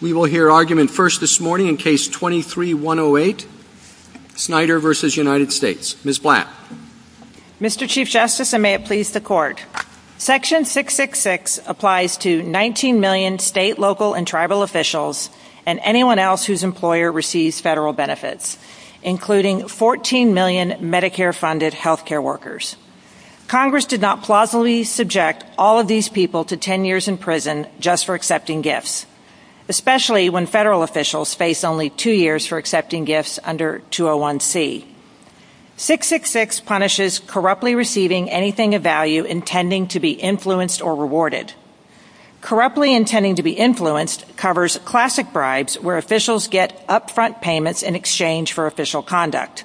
We will hear argument first this morning in Case 23-108, Snyder v. United States. Ms. Blatt. Mr. Chief Justice, and may it please the Court, Section 666 applies to 19 million state, local, and tribal officials and anyone else whose employer receives federal benefits, including 14 million Medicare-funded health care workers. Congress did not plausibly subject all these people to 10 years in prison just for accepting gifts, especially when federal officials face only two years for accepting gifts under 201C. 666 punishes corruptly receiving anything of value intending to be influenced or rewarded. Corruptly intending to be influenced covers classic bribes where officials get upfront payments in exchange for official conduct,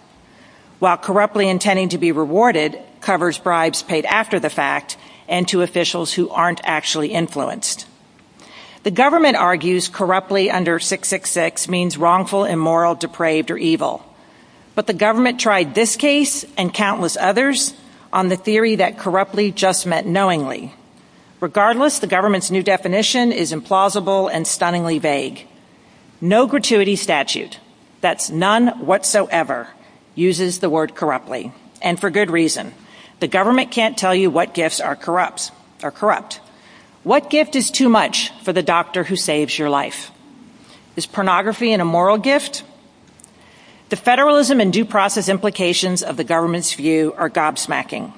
while corruptly intending to be rewarded covers bribes paid after the fact and to officials who aren't actually influenced. The government argues corruptly under 666 means wrongful, immoral, depraved, or evil, but the government tried this case and countless others on the theory that corruptly just meant knowingly. Regardless, the government's new definition is implausible and uses the word corruptly, and for good reason. The government can't tell you what gifts are corrupt. What gift is too much for the doctor who saves your life? Is pornography an immoral gift? The federalism and due process implications of the government's view are gobsmacking.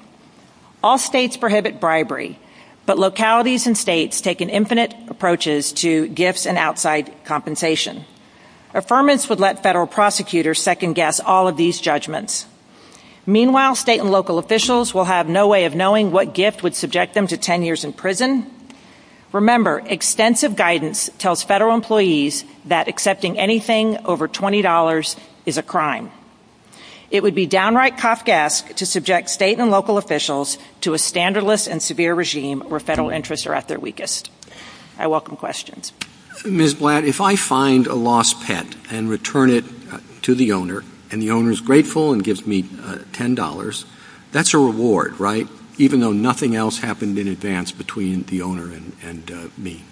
All states prohibit bribery, but localities and states take infinite approaches to gifts and outside compensation. Affirmance would let federal prosecutors second guess all of these judgments. Meanwhile, state and local officials will have no way of knowing what gift would subject them to 10 years in prison. Remember, extensive guidance tells federal employees that accepting anything over $20 is a crime. It would be downright Kafkaesque to subject state and local officials to a standardless and severe regime where federal interests are at their weakest. I welcome questions. Ms. Blatt, if I find a lost pet and return it to the owner, and the owner is grateful and gives me $10, that's a reward, right? Even though nothing else happened in advance between the owner and me.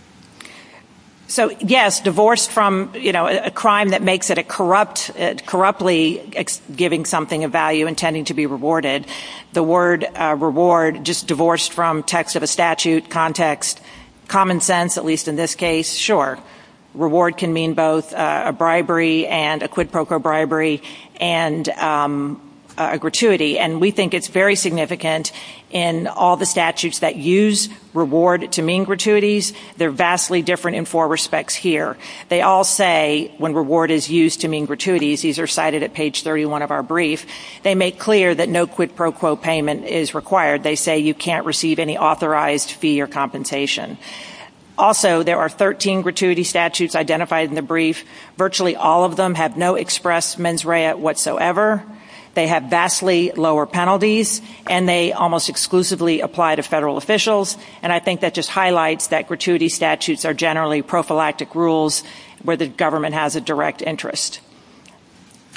So yes, divorced from, you know, a crime that makes it a corrupt, corruptly giving something of value, intending to be rewarded. The word reward, just divorced from text of a statute, context, common sense, at least in this case. Sure, reward can mean both a bribery and a quid pro quo bribery and a gratuity. And we think it's very significant in all the statutes that use reward to mean gratuities. They're vastly different in four respects here. They all say when reward is used to mean gratuities, these are cited at page 31 of our brief, they make clear that no quid pro quo payment is required. They say you can't receive any fee or compensation. Also, there are 13 gratuity statutes identified in the brief. Virtually all of them have no express mens rea whatsoever. They have vastly lower penalties, and they almost exclusively apply to federal officials. And I think that just highlights that gratuity statutes are generally prophylactic rules where the government has a direct interest.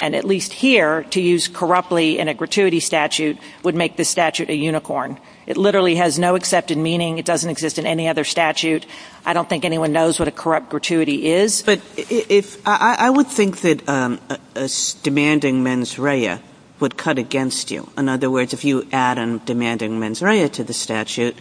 And at least here, to use corruptly in a gratuity statute would make the statute a unicorn. It literally has no accepted meaning. It doesn't exist in any other statute. I don't think anyone knows what a corrupt gratuity is. But I would think that demanding mens rea would cut against you. In other words, if you add in demanding mens rea to the statute,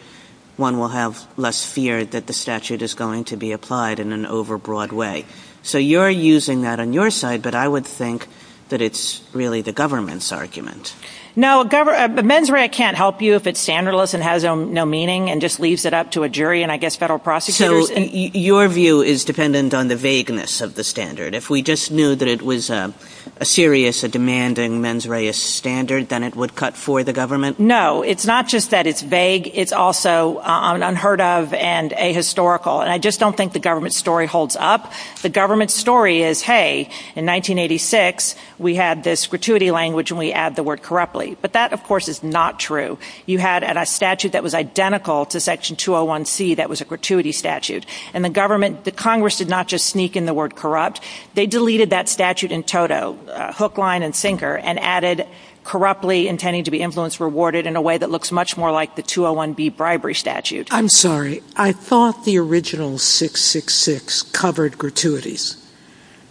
one will have less fear that the statute is going to be applied in an overbroad way. So you're using that on your side, but I would think that it's really the government's argument. No, mens rea can't help you if it's standardless and has no meaning and just leaves it up to a jury and I guess federal prosecutors. Your view is dependent on the vagueness of the standard. If we just knew that it was a serious, a demanding mens rea standard, then it would cut for the government? No, it's not just that it's vague. It's also unheard of and ahistorical. And I just don't think the government story holds up. The government story is, hey, in 1986, we had this gratuity language and we add the word corruptly. But that, of course, is not true. You had a statute that was identical to section 201C that was a gratuity statute. And the government, the Congress did not just sneak in the word corrupt. They deleted that statute in toto, hook, line, and sinker, and added corruptly intending to be influenced, rewarded in a way that looks much more like the 201B bribery statute. I'm sorry. I thought the original 666 covered gratuities.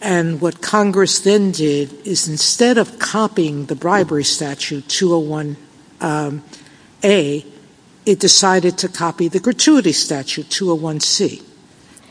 And what Congress then did is instead of copying the bribery statute 201A, it decided to copy the gratuity statute 201C.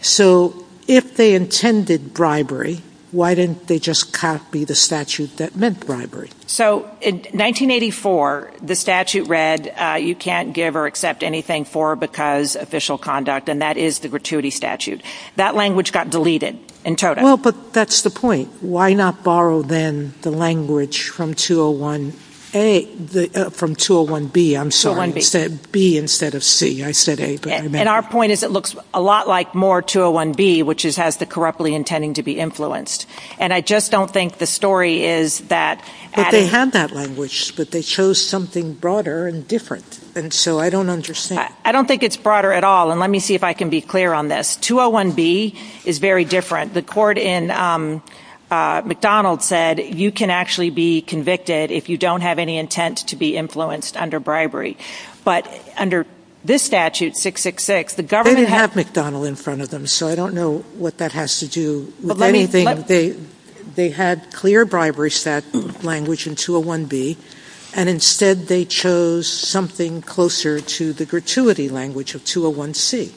So if they intended bribery, why didn't they just copy the statute that meant bribery? So in 1984, the statute read, you can't give or accept anything for or because official conduct. And that is the gratuity statute. That language got deleted in toto. Well, but that's the point. Why not borrow then the language from 201A, from 201B? I'm sorry. 201B. B instead of C. I said A. And our point is it looks a lot like more 201B, which has the corruptly intending to be influenced. And I just don't think the story is that. But they have that language, but they chose something broader and different. And so I don't understand. I don't think it's broader at all. And let me see if I can be clear on this. 201B is very different. The court in McDonald said, you can actually be convicted if you don't have any intent to be influenced under bribery. But under this statute, 666, the government... They didn't have McDonald in front of them. So I don't know what that has to do with anything. They had clear bribery set language in 201B. And instead, they chose something closer to the gratuity language of 201C.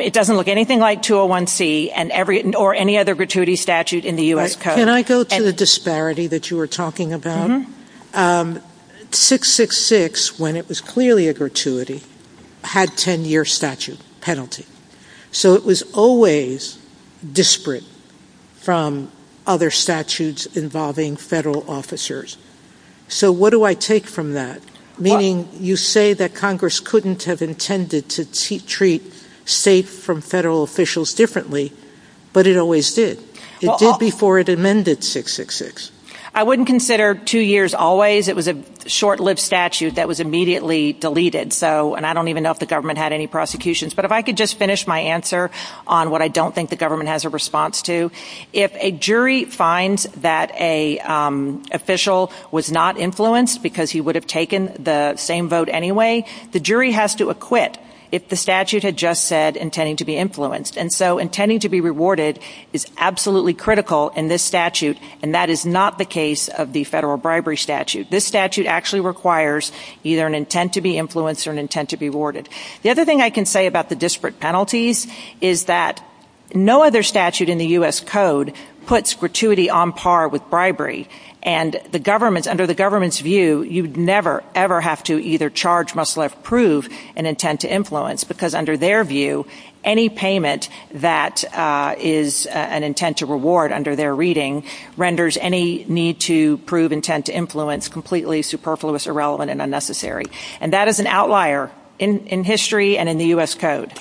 It doesn't look anything like 201C or any other gratuity statute in the U.S. Can I go to the disparity that you were talking about? 666, when it was clearly a gratuity, had 10-year statute penalty. So it was always disparate from other statutes involving federal officers. So what do I take from that? Meaning you say that Congress couldn't have intended to treat state from federal officials differently, but it always did. It did before it amended 666. I wouldn't consider two years always. It was a short-lived statute that was immediately deleted. And I don't even know if the government had any prosecutions. But if I could just finish my answer on what I don't think the government has a response to, if a jury finds that an official was not influenced because he would have taken the same vote anyway, the jury has to acquit if the statute had just said intending to be influenced. And so intending to be rewarded is absolutely critical in this statute. And that is not the case of the federal bribery statute. This statute actually requires either an intent to be influenced or an intent to be rewarded. The other thing I can say about the disparate penalties is that no other statute in the U.S. Code puts gratuity on par with bribery. And the government, under the government's view, you'd never, ever have to either charge, must left prove an intent to influence, because under their view, any payment that is an intent to reward under their reading renders any need to prove intent to influence completely superfluous, irrelevant, and unnecessary. And that is an outlier in history and in the U.S. Code.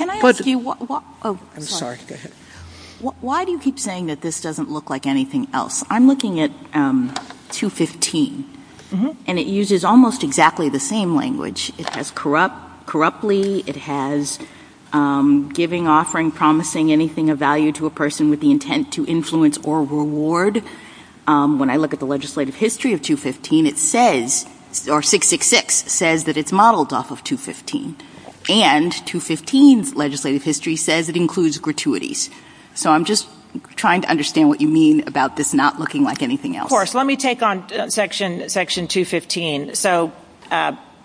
Why do you keep saying that this doesn't look like anything else? I'm looking at 215, and it uses almost exactly the same language. It has corrupt, corruptly, it has giving, offering, promising anything of value to a person with the intent to influence or reward. When I look at the legislative history of 215, it says, or 666, says that it's modeled off of 215. And 215's legislative history says it includes gratuities. So I'm just trying to understand what you mean about this not looking like anything else. Let me take on section 215. So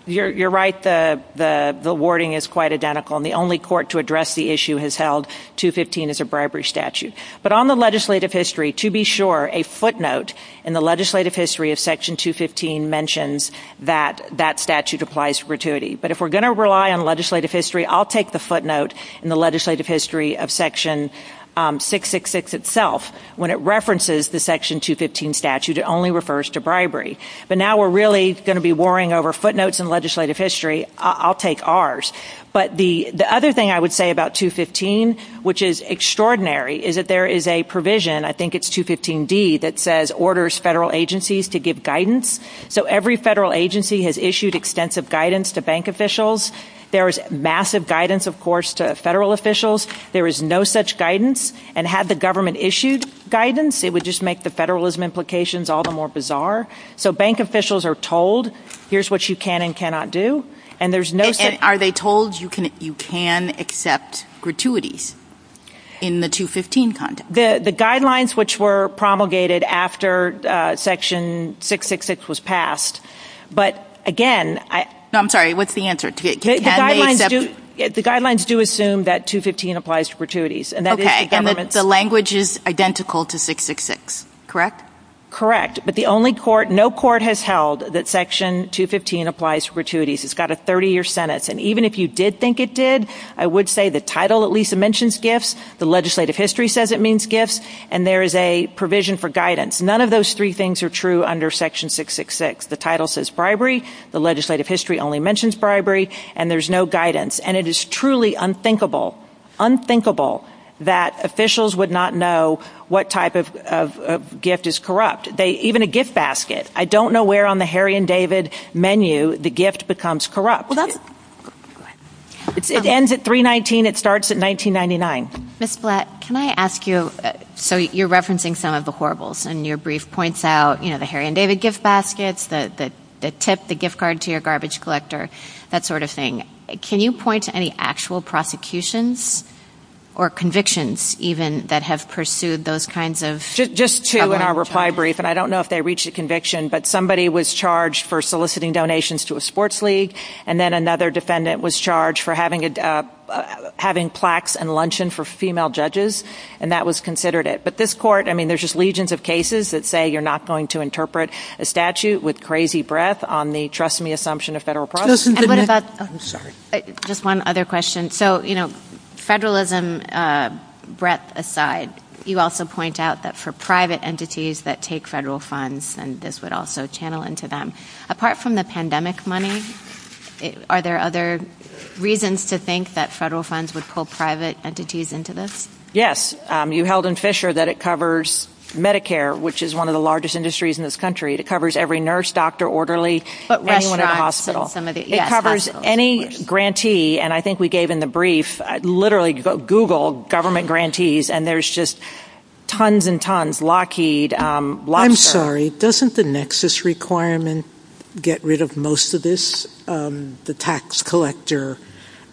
you're right, the wording is quite identical, and the only court to address the issue has held 215 is a bribery statute. But on the legislative history, to be sure, a footnote in the legislative history of section 215 mentions that that statute applies for gratuity. But if we're going to rely on legislative history, I'll take the footnote in the legislative history of section 666 itself. When it references the section 215 statute, it only refers to bribery. But now we're really going to be warring over footnotes in legislative history, I'll take ours. But the other thing I would say about 215, which is extraordinary, is that there is a provision, I think it's 215D, that says orders federal agencies to give guidance. So every federal agency has issued extensive guidance to bank officials. There is massive guidance, of course, to federal officials. There is no such guidance. And had the government issued guidance, it would just make the federalism implications all the more bizarre. So bank officials are told, here's what you can and cannot do. And there's no... And are they told you can accept gratuities in the 215 context? The guidelines which were promulgated after section 666 was passed. But again... I'm sorry, what's the answer? The guidelines do assume that 215 applies to gratuities. Okay. And that the language is identical to 666, correct? Correct. But the only court, no court has held that section 215 applies to gratuities. It's got a 30-year sentence. And even if you did think it did, I would say the title at least mentions gifts. The legislative history says it means gifts. And there is a provision for guidance. None of those three things are true under section 666. The title says bribery. The legislative history only mentions bribery. And there's no guidance. And it is truly unthinkable, unthinkable that officials would not know what type of gift is corrupt. Even a gift basket. I don't know where on the Harry and David menu the gift becomes corrupt. Hold on. Go ahead. It ends at 319. It starts at 1999. Ms. Blatt, can I ask you... So you're referencing some of the horribles. And your brief points out the Harry and David gift baskets, the tip, the gift card to your garbage collector, that sort of thing. Can you point to any actual prosecutions or convictions even that have pursued those kinds of... Just two in our reply brief. And I don't know if they reached a conviction, but somebody was charged for soliciting donations to a sports league. And then another defendant was charged for having plaques and luncheon for female judges. And that was considered it. I mean, there's just legions of cases that say you're not going to interpret a statute with crazy breath on the trust me assumption of federal process. Just one other question. So federalism breath aside, you also point out that for private entities that take federal funds and this would also channel into them. Apart from the pandemic money, are there other reasons to think that federal funds would pull private entities into this? Yes. You held in Fisher that it covers Medicare, which is one of the largest industries in this country. It covers every nurse, doctor, orderly, anyone in the hospital. It covers any grantee. And I think we gave in the brief, literally Google government grantees and there's just tons and tons. Lockheed... I'm sorry. Doesn't the nexus requirement get rid of most of this? The tax collector,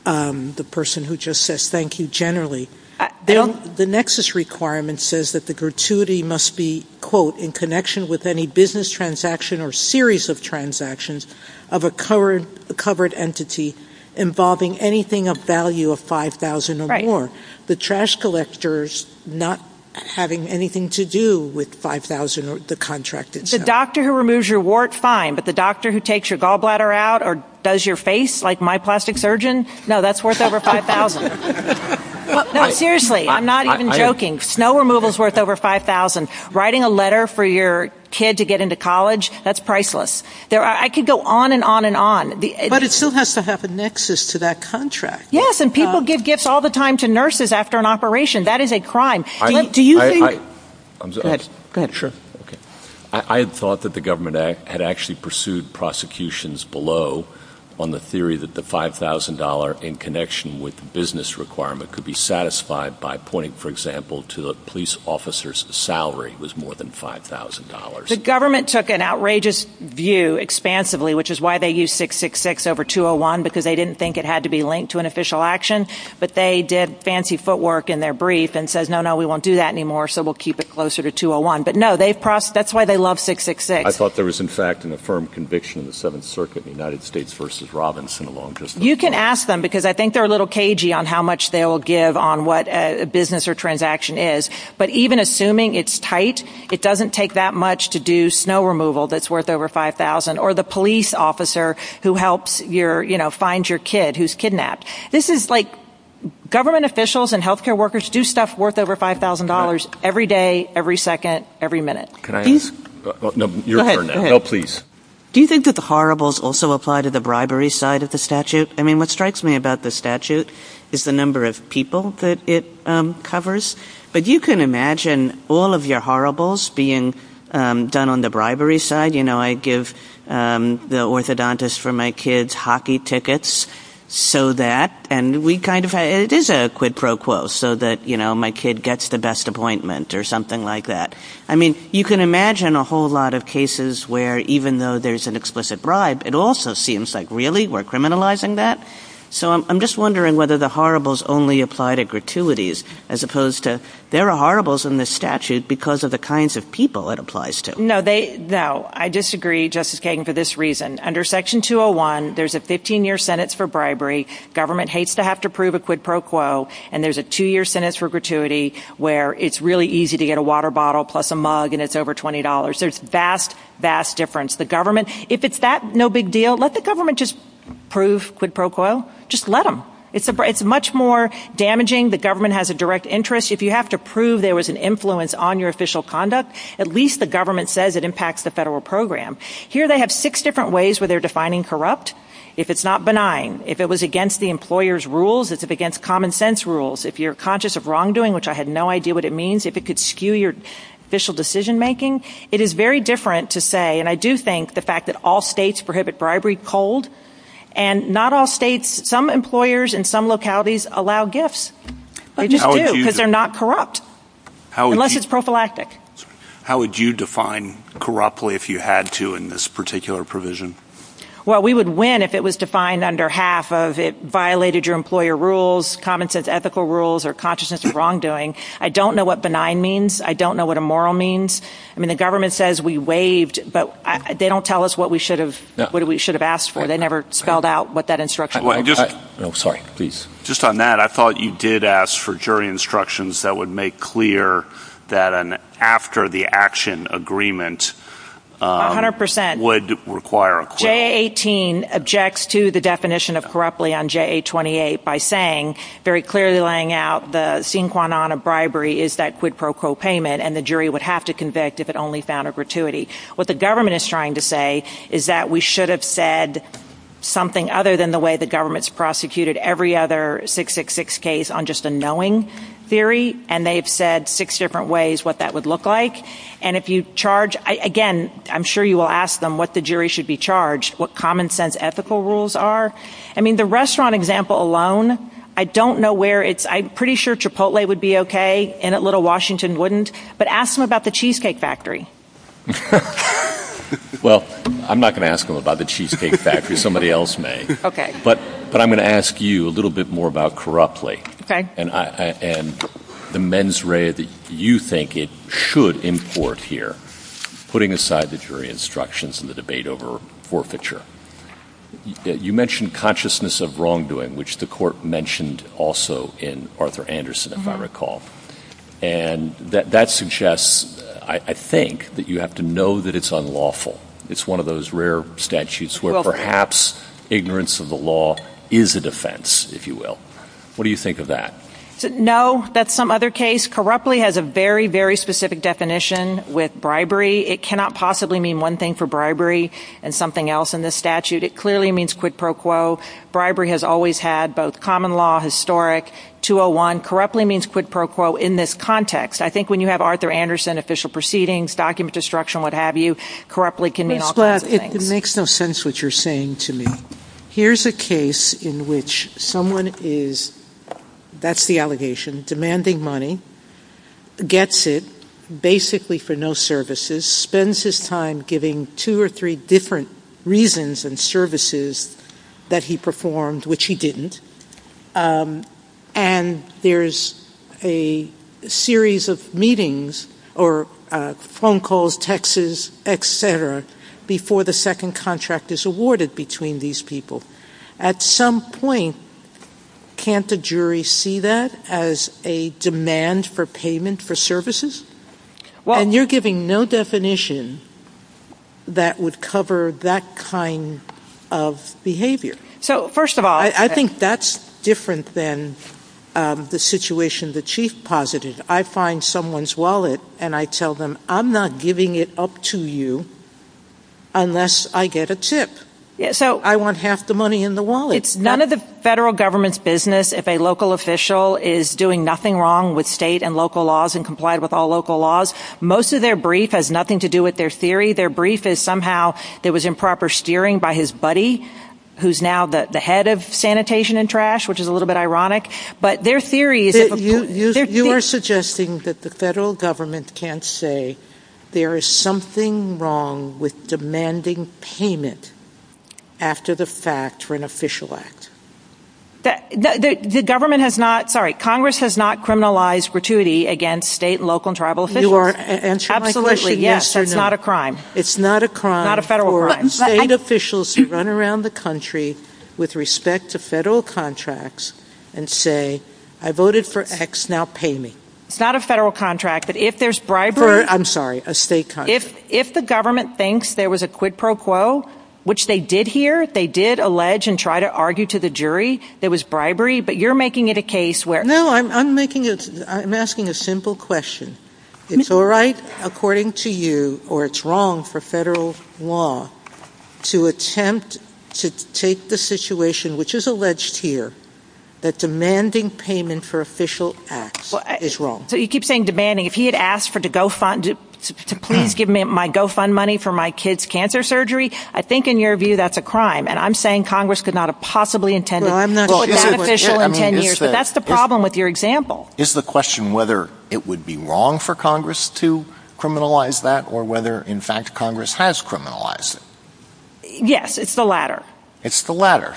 um, the person who just says, thank you. Generally the nexus requirement says that the gratuity must be quote in connection with any business transaction or series of transactions of a covered entity involving anything of value of 5,000 or more. The trash collectors not having anything to do with 5,000 or the contract. The doctor who removes your wart fine, but the doctor who takes your gallbladder out or does your face like my plastic surgeon. No, that's worth over 5,000. Seriously. I'm not even joking. Snow removal is worth over 5,000. Writing a letter for your kid to get into college. That's priceless. I could go on and on and on. But it still has to have a nexus to that contract. Yes. And people give gifts all the time to nurses after an operation. That is a crime. I thought that the government had actually pursued prosecutions below on the theory that the $5,000 in connection with the business requirement could be satisfied by pointing, for example, to the police officer's salary was more than $5,000. The government took an outrageous view expansively, which is why they use 666 over 201, because they didn't think it had to be linked to an official action, but they did fancy footwork in their brief and says, no, no, we won't do that anymore, so we'll keep it closer to 201. But no, that's why they love 666. I thought there was, in fact, an affirmed conviction in the Seventh Circuit, the United States versus Robinson alone. You can ask them because I think they're a little cagey on how much they will give on what a business or transaction is. But even assuming it's tight, it doesn't take that much to do snow removal that's worth over 5,000 or the police officer who helps find your kid who's kidnapped. This is like government officials and health care workers do stuff worth over $5,000 every day, every second, every minute. Do you think that the horribles also apply to the bribery side of the statute? I mean, what strikes me about the statute is the number of people that it covers. But you can imagine all of your horribles being done on the bribery side. You know, I give the orthodontist for my kids hockey tickets so that and we kind of it is a quid pro quo so that, you know, my kid gets the best appointment or something like that. I mean, you can imagine a whole lot of cases where even though there's an explicit bribe, it also seems like, really, we're criminalizing that. So I'm just wondering whether the horribles only apply to gratuities as opposed to there are horribles in the statute because of the kinds of people it applies to. No, I disagree, Justice Kagan, for this reason. Under Section 201, there's a 15-year sentence for bribery. Government hates to have to prove a quid pro quo. And there's a two-year sentence for gratuity where it's really easy to get a water bottle plus a mug and it's over $20. There's vast, vast difference. If it's that no big deal, let the government just prove quid pro quo. Just let them. It's much more damaging. The government has a direct interest. If you have to prove there was an influence on your official conduct, at least the government says it impacts the federal program. Here they have six different ways where they're defining corrupt. If it's not benign, if it was against the employer's rules, if it's against common sense rules, if you're conscious of wrongdoing, which I have no idea what it means, if it could skew your official decision-making. It is very different to say, and I do think the fact that all states prohibit bribery cold. And not all states, some employers in some localities allow gifts. They just do, because they're not corrupt. Unless it's prophylactic. How would you define corruptly if you had to in this particular provision? Well, we would win if it was defined under half of it violated your employer rules, common sense ethical rules, or consciousness of wrongdoing. I don't know what benign means. I don't know what immoral means. I mean, the government says we waived, but they don't tell us what we should have asked for. They never spelled out what that instruction was. Just on that, I thought you did ask for jury instructions that would make clear that an after the action agreement would require a quid pro quo. J18 objects to the definition of corruptly on J28 by saying, very clearly laying out the sine qua non of bribery is that quid pro quo payment, and the jury would have to convict if it only found a gratuity. What the government is trying to say is that we should have said something other than the way the government's prosecuted every other 666 case on just a knowing theory, and they've said six different ways what that would look like. And if you charge, again, I'm sure you will ask them what the jury should be charged, what common sense ethical rules are. I mean, the restaurant example alone, I don't know where it's, I'm pretty sure Chipotle would be okay, and Little Washington wouldn't, but ask them about Cheesecake Factory. Well, I'm not going to ask them about the Cheesecake Factory, somebody else may, but I'm going to ask you a little bit more about corruptly, and the mens rea that you think it should import here, putting aside the jury instructions and the debate over forfeiture. You mentioned consciousness of wrongdoing, which the court I think that you have to know that it's unlawful. It's one of those rare statutes where perhaps ignorance of the law is a defense, if you will. What do you think of that? No, that's some other case. Corruptly has a very, very specific definition with bribery. It cannot possibly mean one thing for bribery and something else in this statute. It clearly means quid pro quo. Bribery has always had both common law, historic, 201. Corruptly means quid pro quo in this context. I think when you have Arthur Anderson official proceedings, document destruction, what have you, corruptly can mean all kinds of things. It makes no sense what you're saying to me. Here's a case in which someone is, that's the allegation, demanding money, gets it, basically for no services, spends his time giving two or three different reasons and services that he series of meetings or phone calls, texts, et cetera, before the second contract is awarded between these people. At some point, can't the jury see that as a demand for payment for services? And you're giving no definition that would cover that kind of behavior. I think that's different than the situation the chief posited. I find someone's wallet and I tell them, I'm not giving it up to you unless I get a tip. So I want half the money in the wallet. It's none of the federal government's business. If a local official is doing nothing wrong with state and local laws and complied with all local laws, most of their brief has nothing to do with their theory. Their brief is somehow, there was improper steering by his buddy, who's now the head of sanitation and trash, which is a little bit ironic, but their theory... You are suggesting that the federal government can't say there is something wrong with demanding payment after the fact for an official act. The government has not, sorry, Congress has not criminalized gratuity against state and local officials. It's not a crime. It's not a crime for state officials to run around the country with respect to federal contracts and say, I voted for X, now pay me. It's not a federal contract, but if there's bribery... I'm sorry, a state contract. If the government thinks there was a quid pro quo, which they did here, they did allege and try to argue to the jury there was bribery, but you're making it a case where... I'm asking a simple question. It's all right, according to you, or it's wrong for federal law to attempt to take the situation, which is alleged here, that demanding payment for official acts is wrong. You keep saying demanding. If he had asked to please give me my GoFundMe money for my kid's cancer surgery, I think in your view, that's a crime. And I'm saying Congress could have possibly intended that official in 10 years, but that's the problem with your example. Is the question whether it would be wrong for Congress to criminalize that or whether, in fact, Congress has criminalized it? Yes, it's the latter. It's the latter.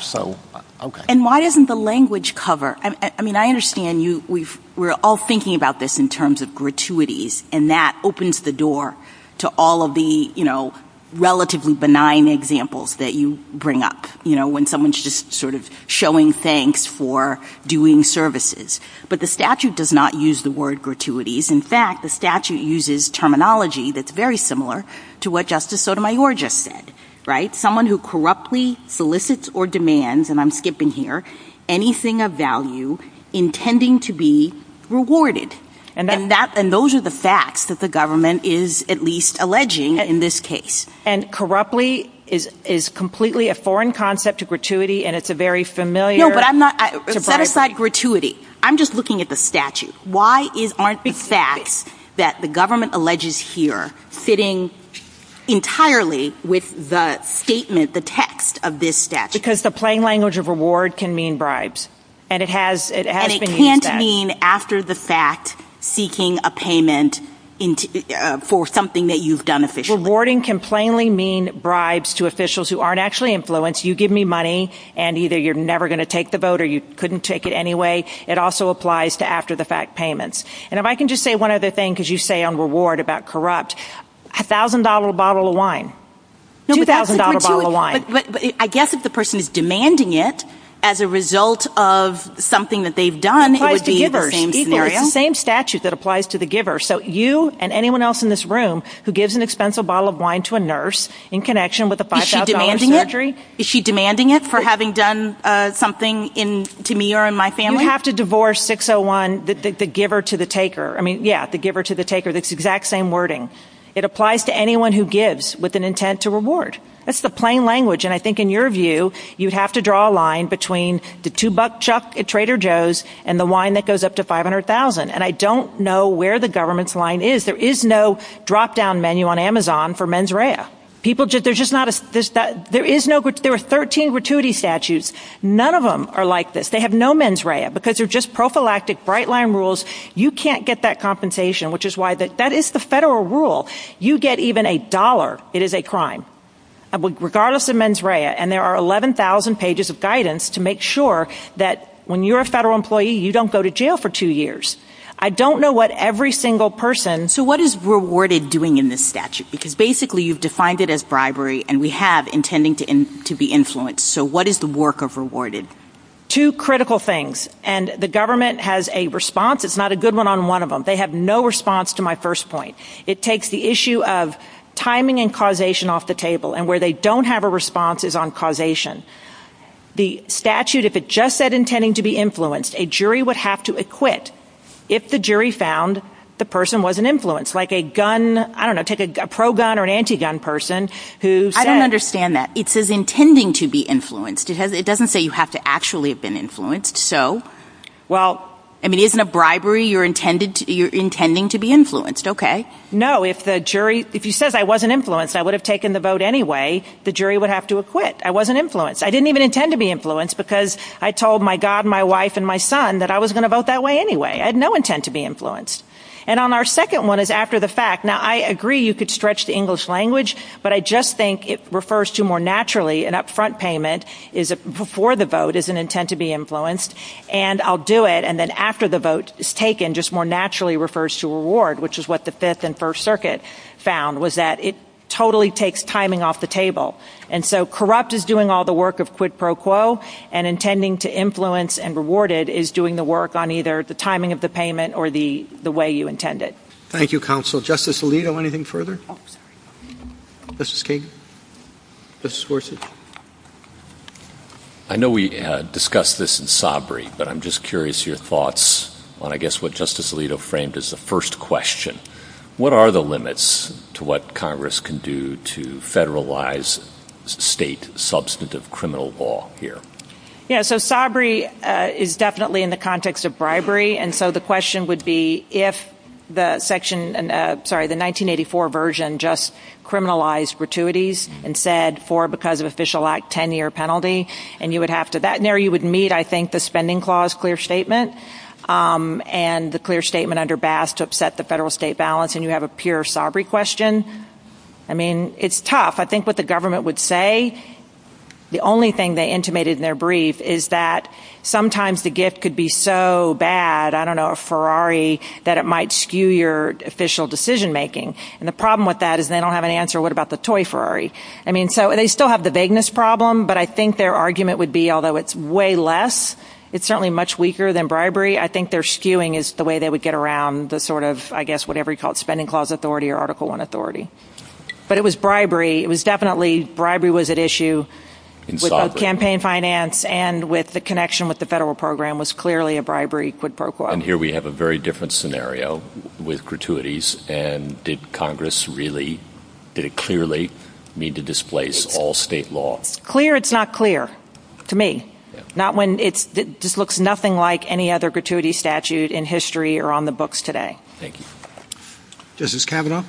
And why isn't the language cover? I mean, I understand we're all thinking about this in terms of gratuities, and that opens the door to all of the relatively benign examples that you sort of showing thanks for doing services. But the statute does not use the word gratuities. In fact, the statute uses terminology that's very similar to what Justice Sotomayor just said, right? Someone who corruptly solicits or demands, and I'm skipping here, anything of value intending to be rewarded. And those are the facts that the government is at least alleging in this case. And corruptly is completely a foreign concept to gratuity, and it's a very familiar. No, but I'm not. Set aside gratuity. I'm just looking at the statute. Why aren't the facts that the government alleges here fitting entirely with the statement, the text of this statute? Because the plain language of reward can mean bribes. And it has been used. And it can't mean after the fact seeking a payment for something that you've done officially. Rewarding can plainly mean bribes to officials who aren't actually influenced. You give me money, and either you're never going to take the vote, or you couldn't take it anyway. It also applies to after the fact payments. And if I can just say one other thing, because you say on reward about corrupt, $1,000 a bottle of wine. $2,000 a bottle of wine. But I guess if the person is demanding it as a result of something that they've done, it would be the same scenario. It's the same statute that applies to the giver. So you and anyone else in this room who gives an expensive bottle of wine to a nurse in connection with a $5,000 surgery. Is she demanding it for having done something to me or in my family? You have to divorce 601, the giver to the taker. I mean, yeah, the giver to the taker. That's the exact same wording. It applies to anyone who gives with an intent to reward. That's the plain language. And I think in your view, you'd have to draw a line between the two-buck Chuck at Trader Joe's and the wine that goes up to $500,000. And I don't know where the government's line is. There is no drop-down menu on Amazon for mens rea. There are 13 gratuity statutes. None of them are like this. They have no mens rea, because they're just prophylactic bright line rules. You can't get that compensation, which is why that is the federal rule. You get even a dollar. It is a crime. Regardless of mens rea, and there are 11,000 pages of guidance to make sure that when you're a federal employee, you don't go to jail for two years. I don't know what every single person... So what is rewarded doing in this statute? Because basically you've defined it as bribery, and we have intending to be influenced. So what is the work of rewarded? Two critical things. And the government has a response. It's not a good one on one of them. They have no response to my first point. It takes the issue of timing and causation off the table. And where they don't have a response is on causation. The statute, if it just said intending to be influenced, a jury would have to acquit if the jury found the person wasn't influenced. Like a gun, I don't know, take a pro-gun or an anti-gun person who said... I don't understand that. It says intending to be influenced. It doesn't say you have to actually have been influenced. So? Well, I mean, isn't a bribery you're intending to be influenced? Okay. No. If the jury... If you said I wasn't influenced, I would have taken the vote anyway. The jury would have to acquit. I wasn't influenced. I didn't even intend to be influenced because I told my God, my wife, and my son that I was going to vote that way anyway. I had no intent to be influenced. And on our second one is after the fact. Now, I agree you could stretch the English language, but I just think it refers to more naturally an upfront payment before the vote is an intent to be influenced. And I'll do it. And then after the vote is taken, just more naturally refers to reward, which is what the Fifth and First Circuit found, was that it totally takes timing off the table. And so corrupt is doing all the work of quid pro quo and intending to influence and rewarded is doing the work on either the timing of the payment or the way you intended. Thank you, counsel. Justice Alito, anything further? Mrs. Kagan? Mrs. Worsley? I know we discussed this in Sabri, but I'm just curious your thoughts on, I guess, Justice Alito framed as the first question. What are the limits to what Congress can do to federalize state substantive criminal law here? Yeah, so Sabri is definitely in the context of bribery. And so the question would be if the section, sorry, the 1984 version just criminalized gratuities and said for because of Official Act 10-year penalty, and you would have a clear statement and the clear statement under Bass to upset the federal state balance and you have a pure Sabri question. I mean, it's tough. I think what the government would say, the only thing they intimated in their brief is that sometimes the gift could be so bad, I don't know, a Ferrari, that it might skew your official decision making. And the problem with that is they don't have an answer. What about the toy Ferrari? I mean, so they still have the vagueness problem, but I think their argument would be, although it's way less, it's certainly much weaker than bribery. I think they're skewing is the way they would get around the sort of, I guess, whatever you call it, spending clause authority or Article One authority. But it was bribery. It was definitely bribery was at issue in campaign finance and with the connection with the federal program was clearly a bribery quid pro quo. And here we have a very different scenario with gratuities. And did Congress really did it clearly need to displace all state law? Clear? It's not clear to me. Not when it's just looks nothing like any other gratuity statute in history or on the books today. Thank you. Justice Kavanaugh,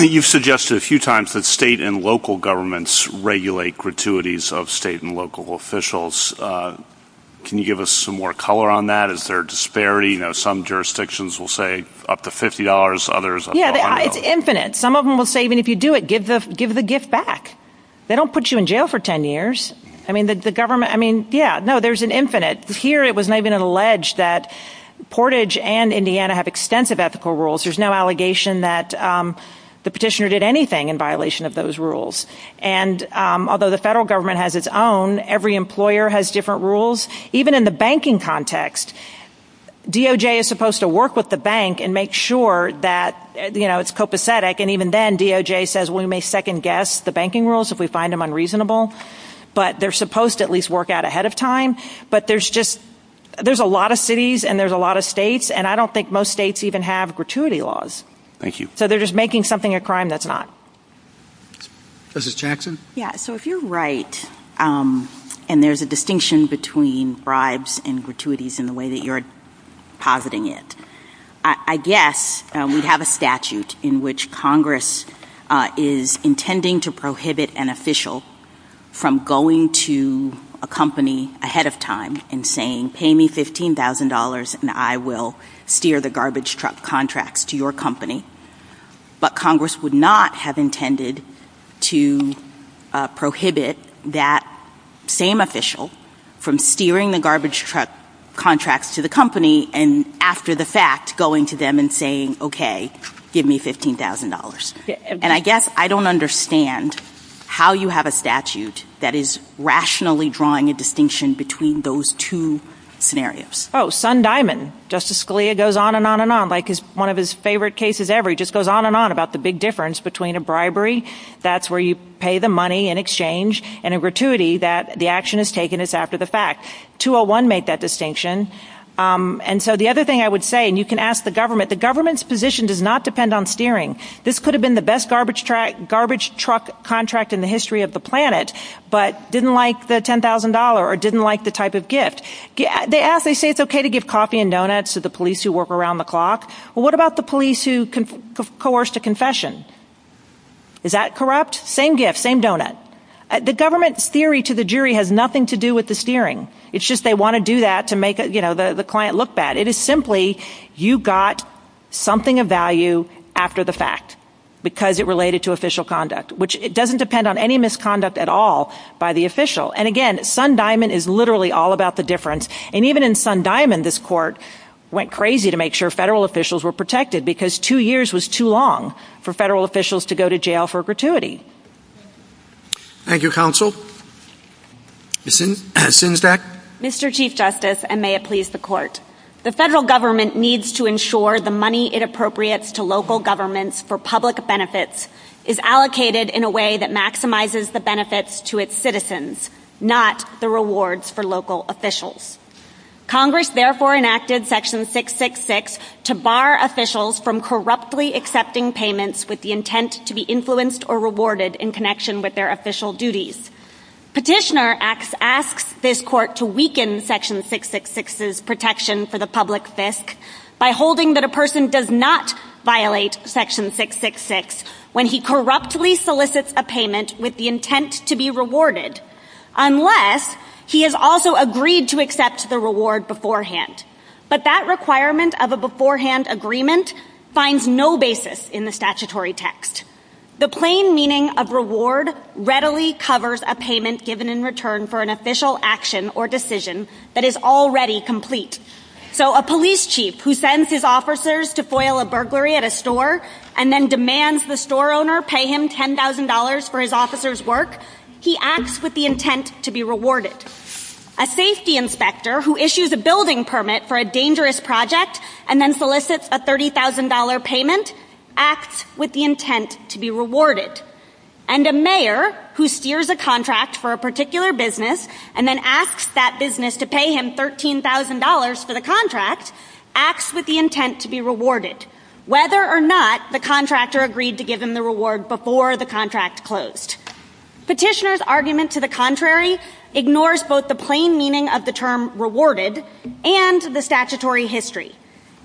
you've suggested a few times that state and local governments regulate gratuities of state and local officials. Can you give us some more color on that? Is there a disparity? You know, some jurisdictions will say up to $50, others? Yeah, it's infinite. Some of them will say, give the gift back. They don't put you in jail for 10 years. I mean, the government, I mean, yeah, no, there's an infinite here. It was not even alleged that Portage and Indiana have extensive ethical rules. There's no allegation that the petitioner did anything in violation of those rules. And although the federal government has its own, every employer has different rules. Even in the banking context, DOJ is supposed to work with the bank and make sure that it's copacetic. And even then DOJ says, we may second guess the banking rules if we find them unreasonable, but they're supposed to at least work out ahead of time. But there's just, there's a lot of cities and there's a lot of states and I don't think most states even have gratuity laws. Thank you. So they're just making something a crime that's not. Justice Jackson? Yeah. So if you're right, and there's a distinction between bribes and gratuities in the way that you're positing it, I guess we have a statute in which Congress is intending to prohibit an official from going to a company ahead of time and saying, pay me $15,000 and I will steer the garbage truck contracts to your company. But Congress would not have intended to prohibit that same official from steering the garbage truck contracts to the company. And after the fact, going to them and saying, okay, give me $15,000. And I guess I don't understand how you have a statute that is rationally drawing a distinction between those two scenarios. Oh, Sun Diamond, Justice Scalia goes on and on and on. Like his, one of his favorite cases ever, he just goes on and on about the big difference between a bribery. That's where you pay the money in exchange and a gratuity that the action is taken is after the fact. 201 made that distinction. And so the other thing I would say, and you can ask the government, the government's position does not depend on steering. This could have been the best garbage truck contract in the history of the planet, but didn't like the $10,000 or didn't like the type of gift. They say it's okay to give coffee and donuts to the police who work around the clock. Well, what about the police who coerced a confession? Is that corrupt? Same gift, same donut. The government's theory to the jury has nothing to do with the steering. It's just, they want to do that to make the client look bad. It is simply, you got something of value after the fact because it related to official conduct, which it doesn't depend on any misconduct at all by the official. And again, Sun Diamond is literally all about the difference. And even in Sun Diamond, this court went crazy to make sure federal officials were protected because two years was too long for federal officials to go to jail for gratuity. Thank you, counsel. Mr. Chief Justice, and may it please the court. The federal government needs to ensure the money it appropriates to local governments for public benefits is allocated in a way that maximizes the benefits to its citizens, not the rewards for local officials. Congress therefore enacted section 666 to bar officials from corruptly accepting payments with the intent to be influenced or rewarded in connection with their official duties. Petitioner asks this court to weaken section 666's protection for the public fisc by holding that a person does not violate section 666 when he corruptly solicits a payment with the intent to be rewarded, unless he has also agreed to accept the reward beforehand. But that requirement of a beforehand agreement finds no basis in the statutory text. The plain meaning of reward readily covers a payment given in return for an official action or decision that is already complete. So a police chief who sends his officers to foil a burglary at a store and then demands the store owner pay him $10,000 for his officer's work, he acts with the intent to be rewarded. A safety inspector who issues a building permit for a dangerous project and then solicits a $30,000 payment acts with the intent to be rewarded. And a mayor who steers a contract for a particular business and then asks that business to pay him $13,000 for the contract acts with the intent to be rewarded, whether or not the contractor agreed to give him the reward before the contract closed. Petitioner's argument to the contrary ignores both the plain meaning of the term rewarded and the statutory history.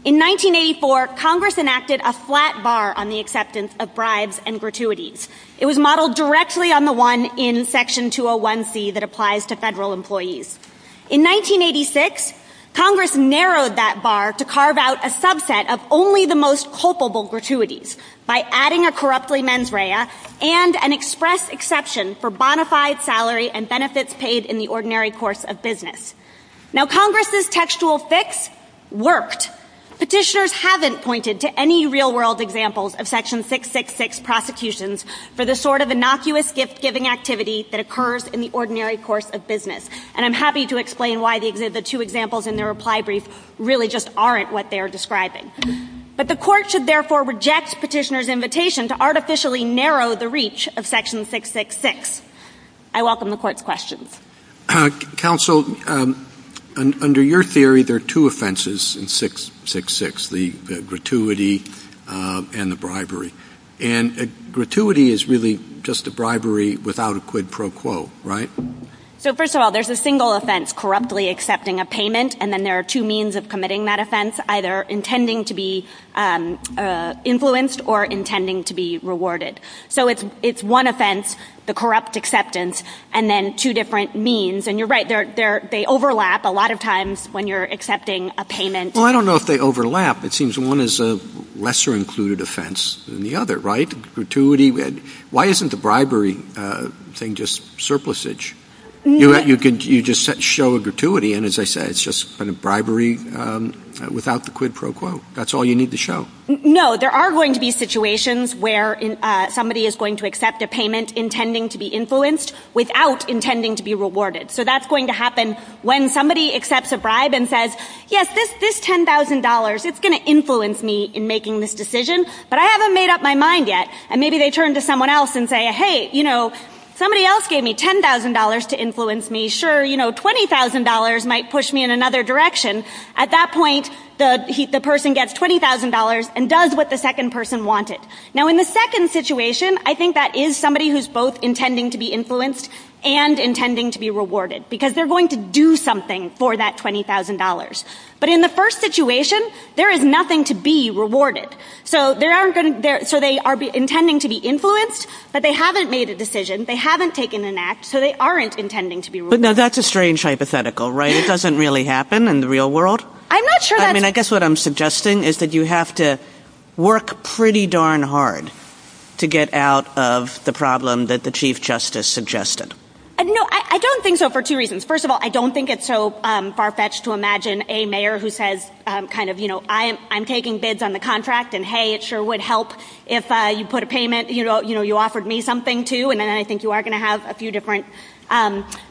In 1984, Congress enacted a flat bar on the acceptance of bribes and gratuities. It was In 1986, Congress narrowed that bar to carve out a subset of only the most culpable gratuities by adding a corruptly mens rea and an express exception for bona fide salary and benefits paid in the ordinary course of business. Now Congress's textual fix worked. Petitioners haven't pointed to any real world examples of section 666 prosecutions for the sort of innocuous gift giving activity that occurs in the ordinary course of business. And I'm happy to explain why the two examples in their reply brief really just aren't what they're describing. But the court should therefore reject petitioner's invitation to artificially narrow the reach of section 666. I welcome the court's questions. Counsel, under your theory, there are two offenses in 666, the gratuity and the bribery. And gratuity is really just a bribery without a quid pro quo, right? So first of all, there's a single offense, corruptly accepting a payment, and then there are two means of committing that offense, either intending to be influenced or intending to be rewarded. So it's one offense, the corrupt acceptance, and then two different means. And you're right, they overlap a lot of times when you're accepting a payment. Well, I don't know if they overlap. It seems one is a lesser included offense than the other, right? Gratuity, why isn't the bribery thing just surplusage? You just show a gratuity, and as I said, it's just kind of bribery without the quid pro quo. That's all you need to show. No, there are going to be situations where somebody is going to accept a payment intending to be influenced without intending to be rewarded. So that's going to happen when somebody accepts a bribe and says, yes, this $10,000, it's going to influence me in making this decision, but I haven't made up my mind yet. And maybe they turn to someone else and say, hey, you know, somebody else gave me $10,000 to influence me. Sure, you know, $20,000 might push me in another direction. At that point, the person gets $20,000 and does what the second person wanted. Now, in the second situation, I think that is somebody who is both intending to be influenced and intending to be rewarded, because they're going to do something for that $20,000. But in the first situation, there is nothing to be rewarded. So they are intending to be influenced, but they haven't made a decision. They haven't taken an act. So they aren't intending to be rewarded. But that's a strange hypothetical, right? It doesn't really happen in the real world. I'm not sure. I mean, I guess what I'm suggesting is that you have to work pretty darn hard to get out of the problem that the Chief Justice suggested. No, I don't think so, for two reasons. First of all, I don't think it's so far-fetched to imagine a mayor who says, kind of, you know, I'm taking bids on the contract, and hey, it sure would help if you put a payment, you know, you offered me something, too. And then I think you are going to have a few different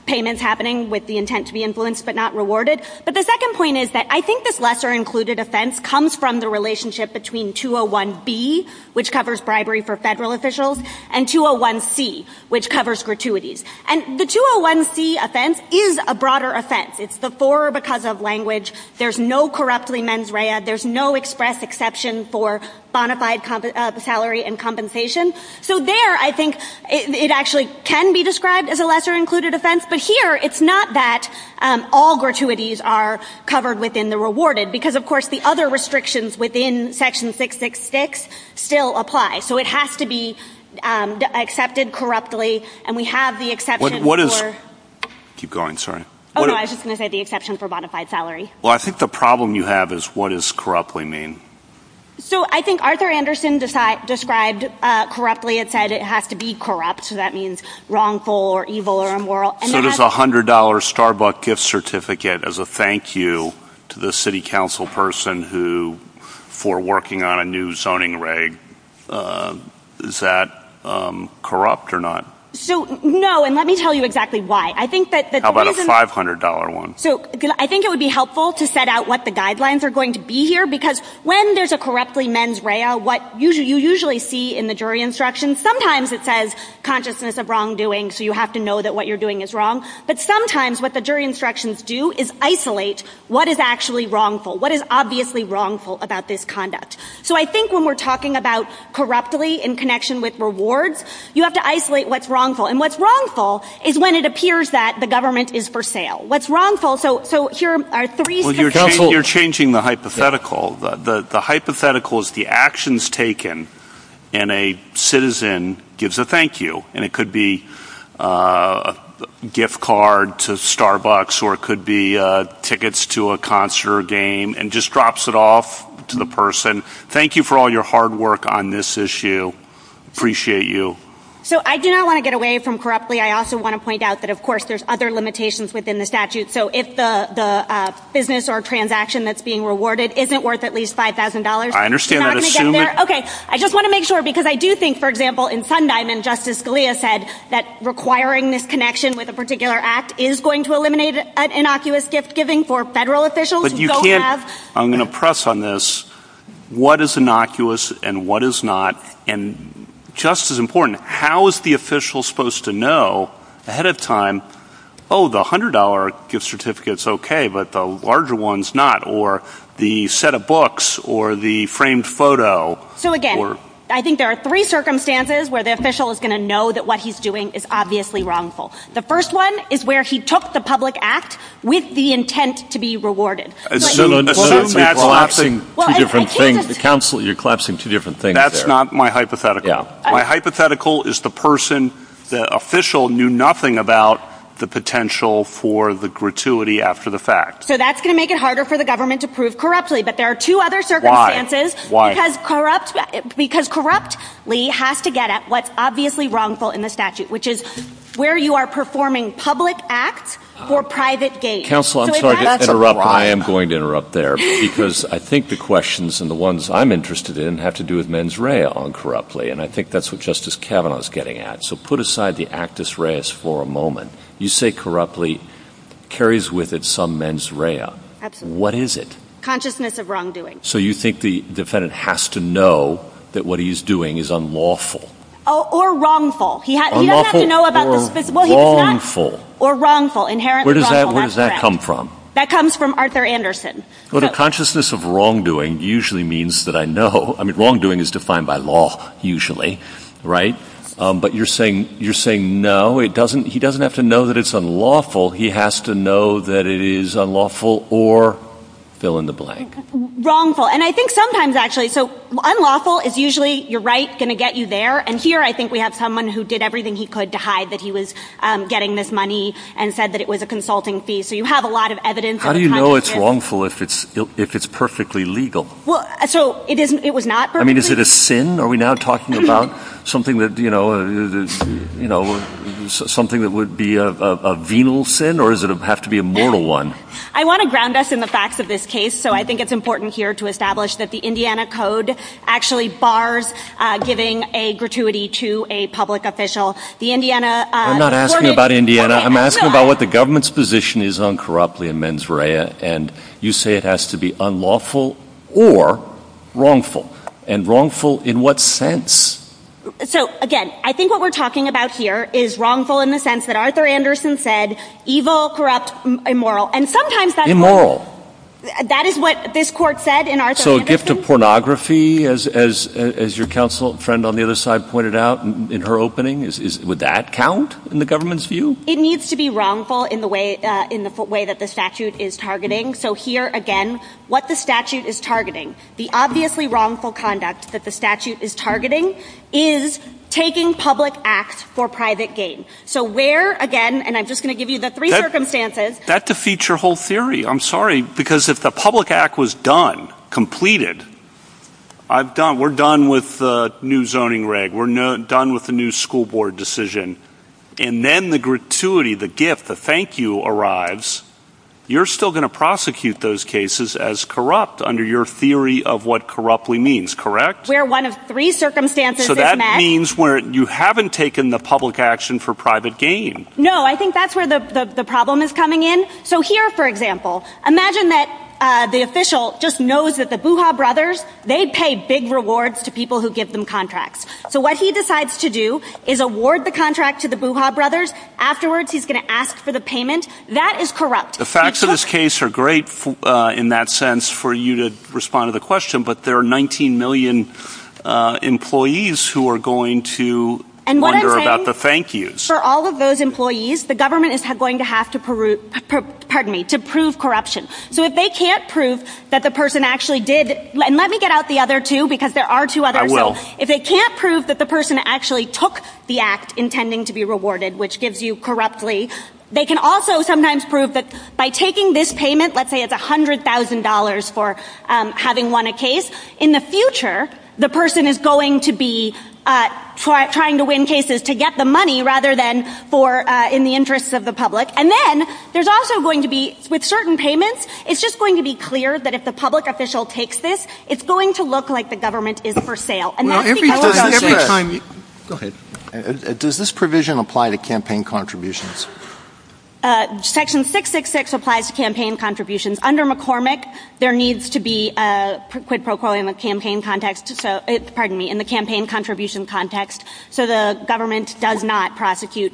payments happening with the intent to be influenced but not rewarded. But the second point is that I think this lesser-included offense comes from the relationship between 201B, which covers bribery for federal officials, and 201C, which covers gratuities. And the 201C offense is a broader offense. It's the for or because of language. There's no corruptly mens rea. There's no express exception for bona fide salary and compensation. So there, I think, it actually can be described as a lesser-included offense. But here, it's not that all gratuities are covered within the rewarded, because, of course, the other restrictions within Section 666 still apply. So it has to be accepted corruptly, and we have the exception for... Keep going, sorry. Oh, no, I was just going to say the exception for bona fide salary. Well, I think the problem you have is what does corruptly mean? So I think Arthur Anderson described corruptly, it said it has to be corrupt. So that means wrongful or evil or immoral. So there's a $100 Starbuck gift certificate as a thank you to the city council person for working on a new zoning reg. Is that corrupt or not? So, no, and let me tell you exactly why. How about a $500 one? So I think it would be helpful to set out what the guidelines are going to be here, because when there's a corruptly mens rea, what you usually see in the jury instructions, sometimes it says consciousness of wrongdoing, so you have to know that what you're doing is wrong. But sometimes what the jury instructions do is isolate what is actually wrongful, what is obviously wrongful about this conduct. So I think when we're talking about corruptly in connection with rewards, you have to isolate what's wrongful. And what's wrongful is when it appears that the government is for sale. What's wrongful... You're changing the hypothetical. The hypothetical is the actions taken and a citizen gives a thank you. And it could be a gift card to Starbucks or it could be tickets to a concert or game and just drops it off to the person. Thank you for all your hard work on this issue. Appreciate you. So I do not want to get away from corruptly. I also want to point out that, of course, there's other limitations within the statute. So if the business or transaction that's being rewarded isn't worth at least $5,000... I just want to make sure because I do think, for example, in Sondheim and Justice Scalia said that requiring this connection with a particular act is going to eliminate innocuous gift giving for federal officials. But you can't... I'm going to press on this. What is innocuous and what is not? And just as important, how is the official supposed to know ahead of time, oh, the $100 gift certificate's okay, but the larger one's not? Or the set of books or the framed photo? So again, I think there are three circumstances where the official is going to know that what he's doing is obviously wrongful. The first one is where he took the public act with the intent to be rewarded. Collapsing two different things. Counsel, you're collapsing two different things. That's not my hypothetical. My hypothetical is the person, the official knew nothing about the potential for the gratuity after the fact. So that's going to make it harder for the government to prove corruptly. But there are two other circumstances. Why? Because corruptly has to get at what's obviously wrongful in the statute, which is where you are performing public acts for private gain. Counsel, I'm sorry to interrupt, but I am going to interrupt there because I think the questions and the ones I'm interested in have to do with mens rea on corruptly. And I think that's what Justice Kavanaugh is getting at. So put aside the you say corruptly carries with it some mens rea. What is it? Consciousness of wrongdoing. So you think the defendant has to know that what he's doing is unlawful? Oh, or wrongful. He doesn't have to know about this. Wrongful. Or wrongful. Where does that come from? That comes from Arthur Anderson. Well, the consciousness of wrongdoing usually means that I know. I mean, wrongdoing is defined by law usually. Right. But you're saying, you're saying, no, it doesn't. He doesn't have to know that it's unlawful. He has to know that it is unlawful or fill in the blank. Wrongful. And I think sometimes actually so unlawful is usually your rights going to get you there. And here I think we have someone who did everything he could to hide that he was getting this money and said that it was a consulting fee. So you have a lot of evidence. How do you know it's wrongful if it's perfectly legal? Well, so it was not. I mean, is it a sin? Are we now talking about something that, you know, something that would be a venal sin or does it have to be a mortal one? I want to ground us in the facts of this case. So I think it's important here to establish that the Indiana Code actually bars giving a gratuity to a public official. The Indiana. I'm not asking about Indiana. I'm asking about what the government's position is on corruptly and mens rea. And you say it has to be unlawful or wrongful and wrongful in what sense? So, again, I think what we're talking about here is wrongful in the sense that Arthur Anderson said evil, corrupt, immoral. And sometimes that's immoral. That is what this court said. So a gift of pornography, as your counsel friend on the other side pointed out in her opening, is would that count in the government's view? It needs to be wrongful in the way in the way that the statute is targeting. So here again, what the statute is targeting, the obviously wrongful conduct that the statute is targeting is taking public acts for private gain. So where, again, and I'm just going to give you the three circumstances. That defeats your whole theory. I'm sorry, because if the public act was done, completed, we're done with the new zoning reg. We're done with the new school board decision. And then the gratuity, the gift, the thank you arrives. You're still going to prosecute those cases as corrupt under your theory of what corruptly correct. We're one of three circumstances. So that means where you haven't taken the public action for private gain. No, I think that's where the problem is coming in. So here, for example, imagine that the official just knows that the Buha brothers, they pay big rewards to people who give them contracts. So what he decides to do is award the contract to the Buha brothers. Afterwards, he's going to ask for the payment. That is corrupt. The facts of this case are great in that sense for you to respond to the question, but there are 19 million employees who are going to wonder about the thank yous. For all of those employees, the government is going to have to prove corruption. So if they can't prove that the person actually did, and let me get out the other two, because there are two others. If they can't prove that the person actually took the act intending to be rewarded, which gives you corruptly, they can also sometimes prove that by taking this payment, let's say it's $100,000 for having won a case. In the future, the person is going to be trying to win cases to get the money rather than for in the interest of the public. And then there's also going to be, with certain payments, it's just going to be clear that if the public official takes this, it's going to look like the government is for sale. Does this provision apply to campaign contributions? Section 666 applies to campaign contributions. Under McCormick, there needs to be a quid pro quo in the campaign context, pardon me, in the campaign contribution context, so the government does not prosecute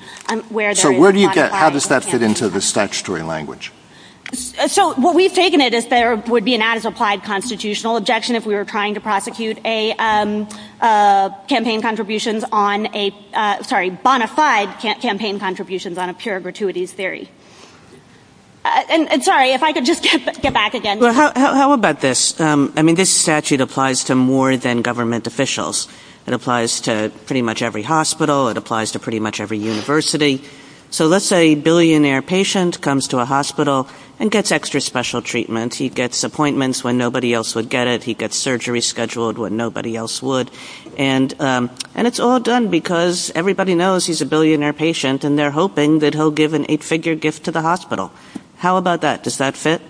where there is a bona fide campaign contribution. How does that fit into the statutory language? So what we've taken it as there would be an ad as applied constitutional objection if we were trying to prosecute a campaign contributions on a, sorry, bona fide campaign contributions on a pure gratuity theory. And sorry, if I could just get back again. How about this? I mean, this statute applies to more than government officials. It applies to pretty much every hospital. It applies to pretty much every university. So let's say a billionaire patient comes to a hospital and gets extra special treatment. He gets appointments when nobody else would get it. He gets surgery scheduled when nobody else would. And it's all done because everybody knows he's a billionaire patient, and they're hoping that he'll give an eight-figure gift to the hospital. How about that? Does that fit?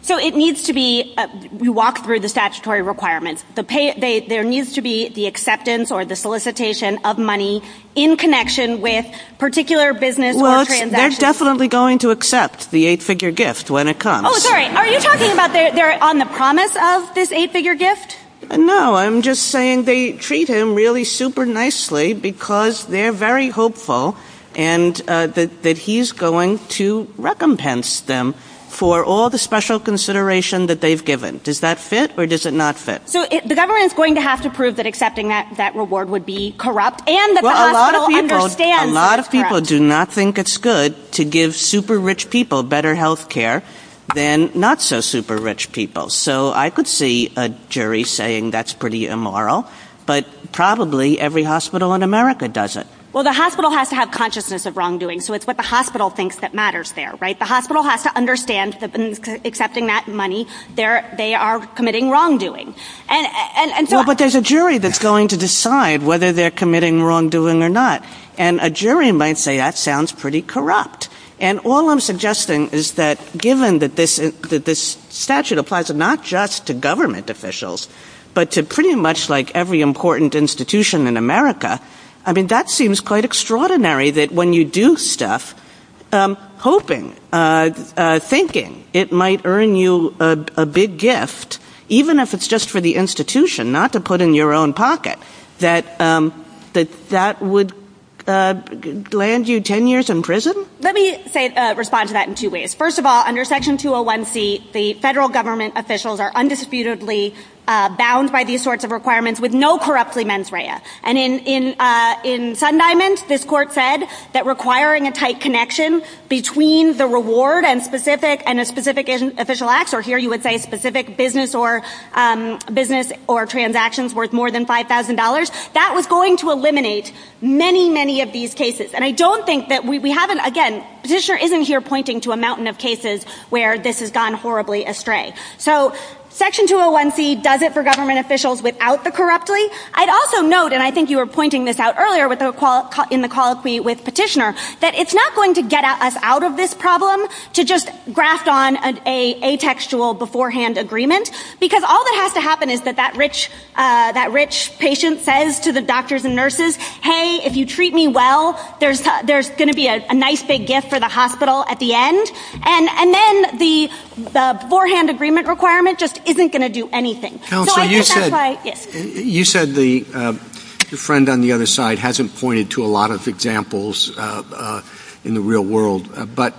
So it needs to be, we walk through the statutory requirements. There needs to be the acceptance or the solicitation of money in connection with particular business or transactions. Well, they're definitely going to accept the eight-figure gift when it comes. Are you talking about they're on the promise of this eight-figure gift? No, I'm just saying they treat him really super nicely because they're very hopeful and that he's going to recompense them for all the special consideration that they've given. Does that fit or does it not fit? So the government is going to have to prove that accepting that reward would be corrupt. And a lot of people do not think it's good to give super rich people better health care than not so super rich people. So I could see a jury saying that's pretty immoral, but probably every hospital in America does it. Well, the hospital has to have consciousness of wrongdoing. So it's what the hospital thinks that matters there, right? The hospital has to understand that accepting that money, they are committing wrongdoing. But there's a jury that's going to decide whether they're committing wrongdoing or not. And a jury might say that sounds pretty corrupt. And all I'm suggesting is that given that this statute applies not just to government officials, but to pretty much like every important institution in America, I mean, that seems quite extraordinary that when you do stuff, hoping, thinking it might earn you a big gift, even if it's just for the institution, not to put in your own pocket, that that would land you 10 years in prison. Let me say, respond to that in two ways. First of all, under Section 201C, the federal government officials are undisputedly bound by these sorts of requirements with no corruptly mens rea. And in Sun Diamonds, this court said that requiring a tight connection between the reward and a specific official act, or here you would say specific business or transactions worth more than $5,000, that was going to eliminate many, many of these cases. And I don't think that we haven't, again, Petitioner isn't here pointing to a mountain of cases where this has gone horribly astray. So Section 201C does it for government officials without the corruptly. I'd also note, and I think you were pointing this out earlier in the call with Petitioner, that it's not going to get us out of this problem to just grasp on a textual beforehand agreement, because all that has to happen is that that rich patient says to the doctors and nurses, hey, if you treat me well, there's going to be a nice big gift for the hospital at the end. And then the beforehand agreement requirement just isn't going to do anything. You said the friend on the other side hasn't pointed to a lot of examples in the real world, but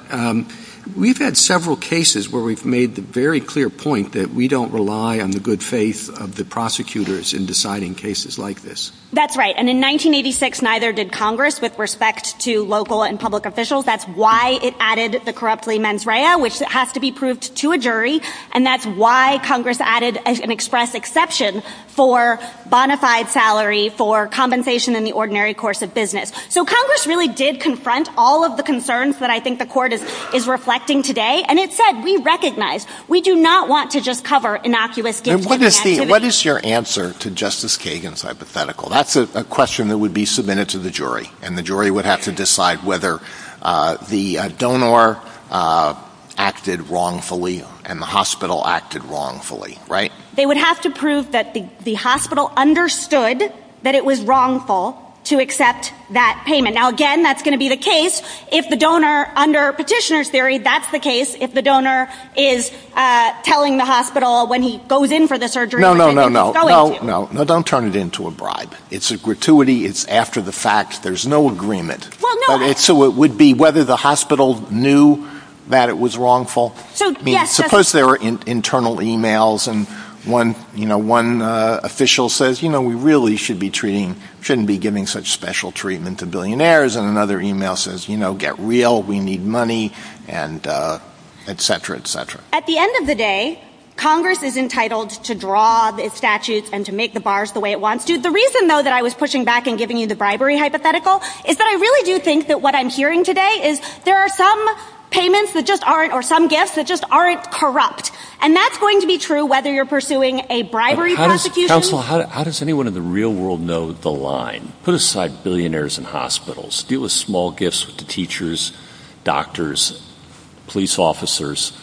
we've had several cases where we've made the very clear point that we don't rely on the good faith of the prosecutors in deciding cases like this. That's right. And in 1986, neither did Congress with respect to local and public officials. That's why it added the corruptly mens rea, which has to be proved to a jury. And that's why Congress added an express exception for bonafide salary for compensation in the ordinary course of business. So Congress really did confront all of the concerns that I think the court is reflecting today. And it said, we recognize we do not want to just cover innocuous What is your answer to Justice Kagan's hypothetical? That's a question that would be submitted to the jury and the jury would have to decide whether the donor acted wrongfully and the hospital acted wrongfully, right? They would have to prove that the hospital understood that it was wrongful to accept that payment. Now, again, that's going to be the case if the donor under petitioner theory, that's the case if the donor is telling the hospital when he goes in for the surgery. No, no, no, no, no, no, no. Don't turn it into a bribe. It's a gratuity. It's after the fact. There's no agreement. So it would be whether the hospital knew that it was wrongful. Suppose there are internal emails and one, you know, one official says, you know, we really should be treating shouldn't be giving such special treatment to billionaires. And et cetera, et cetera. At the end of the day, Congress is entitled to draw the statutes and to make the bars the way it wants to. The reason, though, that I was pushing back and giving you the bribery hypothetical is that I really do think that what I'm hearing today is there are some payments that just aren't or some gifts that just aren't corrupt. And that's going to be true whether you're pursuing a bribery. How does anyone in the real world know the line put aside billionaires and hospitals deal with small gifts to teachers, doctors, police officers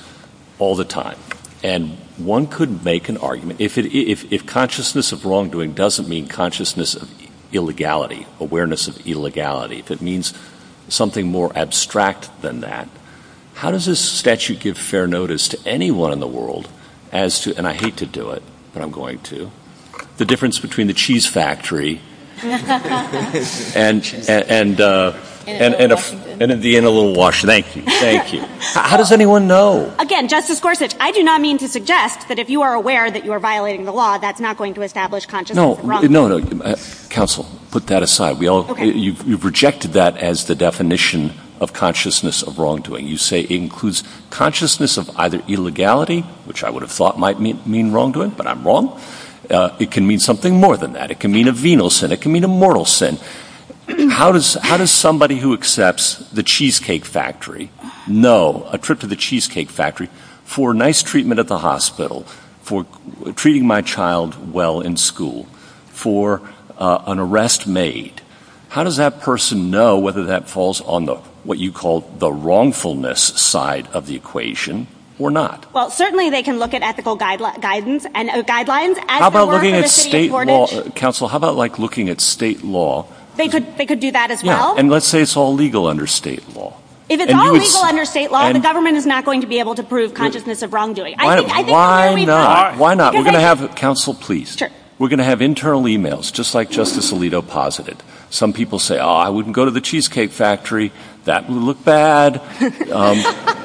all the time? And one could make an argument if it if consciousness of wrongdoing doesn't mean consciousness of illegality, awareness of illegality, that means something more abstract than that. How does this statute give fair notice to anyone in the world as to and I hate to do it, but I'm going to the difference between the cheese factory and and in a in a little wash. Thank you. Thank you. How does anyone know? Again, Justice Gorsuch, I do not mean to suggest that if you are aware that you are violating the law, that's not going to establish conscious. No, no, no. Counsel, put that aside. We all you projected that as the definition of consciousness of wrongdoing, you say includes consciousness of either illegality, which I would have thought might mean wrongdoing, but I'm wrong. It can mean something more than that. It can mean a venal sin. It can mean a mortal sin. How does how does somebody who accepts the cheesecake factory know a trip to the cheesecake factory for nice treatment at the hospital, for treating my child well in school, for an arrest made? How does that person know whether that falls on the what you call the wrongfulness side of the equation or not? Well, certainly they can look at ethical guidance and guidelines. How about looking at state law? Counsel, how about like looking at state law? They could they could do that as well. And let's say it's all legal under state law. If it's all legal under state law, the government is not going to be able to prove consciousness of wrongdoing. Why not? Why not? We're going to have counsel, please. We're going to have internal emails, just like Justice Alito posited. Some people say, oh, I wouldn't go to the cheesecake factory. That would look bad,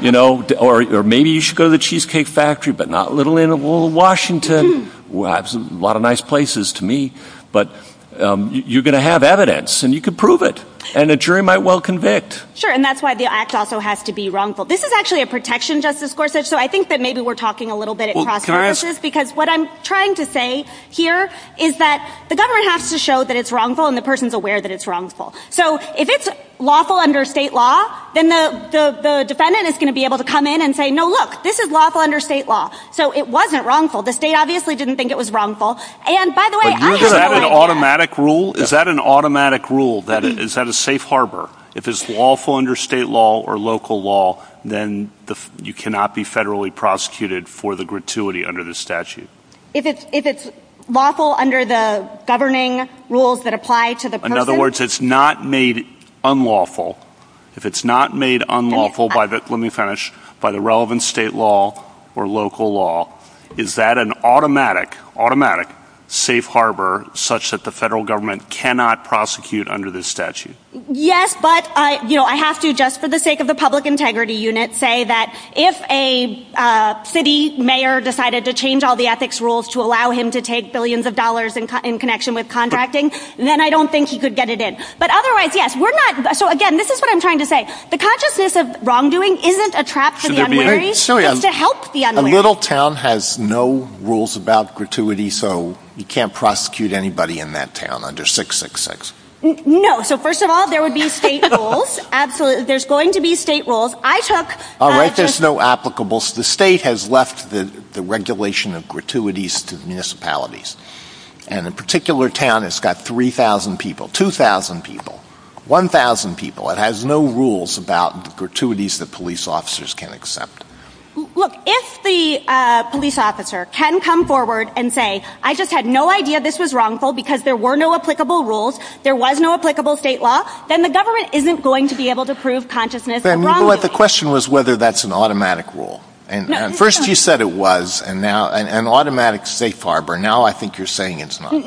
you know, or maybe you should go to the cheesecake factory, but not a little in Washington. Well, that's a lot of nice places to me. But you're going to have evidence and you can prove it. And the jury might well convict. Sure. And that's why the act also has to be wrongful. This is actually a protection justice court. So I think that maybe we're talking a little bit because what I'm trying to say here is that the government has to show that it's wrongful and the person's aware that it's wrongful. So if it's lawful under state law, then the defendant is going to be able to come in and say, no, look, this is lawful under state law. So it wasn't wrongful. The state obviously didn't think it was wrongful. And by the way, is that an automatic rule? Is that an automatic rule that is that a safe harbor? If it's lawful under state law or local law, then you cannot be federally prosecuted for the gratuity under the statute. If it's lawful under the governing rules that apply to the. In other words, it's not made unlawful. If it's not made unlawful by that, by the relevant state law or local law, is that an automatic, automatic safe harbor such that the federal government cannot prosecute under the statute? Yes, but I have to just for the sake of the public integrity unit, say that if a city mayor decided to change all the ethics rules to allow him to take billions of dollars in connection with contracting, then I don't think he could get it in. But otherwise, yes, we're not. So again, this is what I'm trying to say. The consciousness of wrongdoing isn't a trap to help the little town has no rules about gratuity. So you can't prosecute anybody in that town under six, six, six. No. So first of all, there would be state rules. Absolutely. There's going to be state rules. I took all right. There's no applicable. The state has left the regulation of gratuities to municipalities. And the particular town has got 3000 people, 2000 people, 1000 people. It has no rules about gratuities that police officers can accept. Look, if the police officer can come forward and say, I just had no idea this was wrongful, because there were no applicable rules. There was no applicable state law, then the government isn't going to be able to prove consciousness. The question was whether that's an automatic rule. And first he said it was and now an automatic safe harbor. Now I think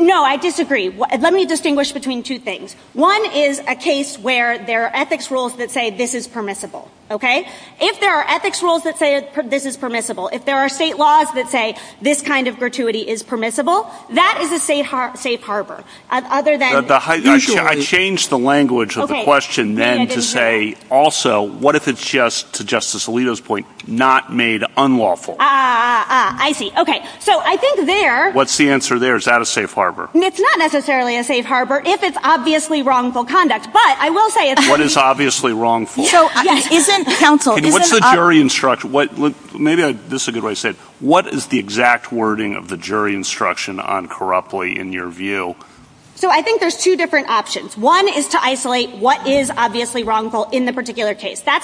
No, I disagree. Let me distinguish between two things. One is a case where there are ethics rules that say this is permissible. Okay? If there are ethics rules that say this is permissible, if there are state laws that say this kind of gratuity is permissible, that is a safe harbor. I changed the language of the question then to say also, what if it's just to Justice Alito's not made unlawful? Ah, I see. Okay. So I think there, what's the answer there? Is that a safe harbor? It's not necessarily a safe harbor if it's obviously wrongful conduct. But I will say it's obviously wrong. So what's the jury instruction? Maybe this is a good way to say what is the exact wording of the jury instruction on corruptly in your view? So I think there's two different options. One is to isolate what is obviously wrongful in the case. I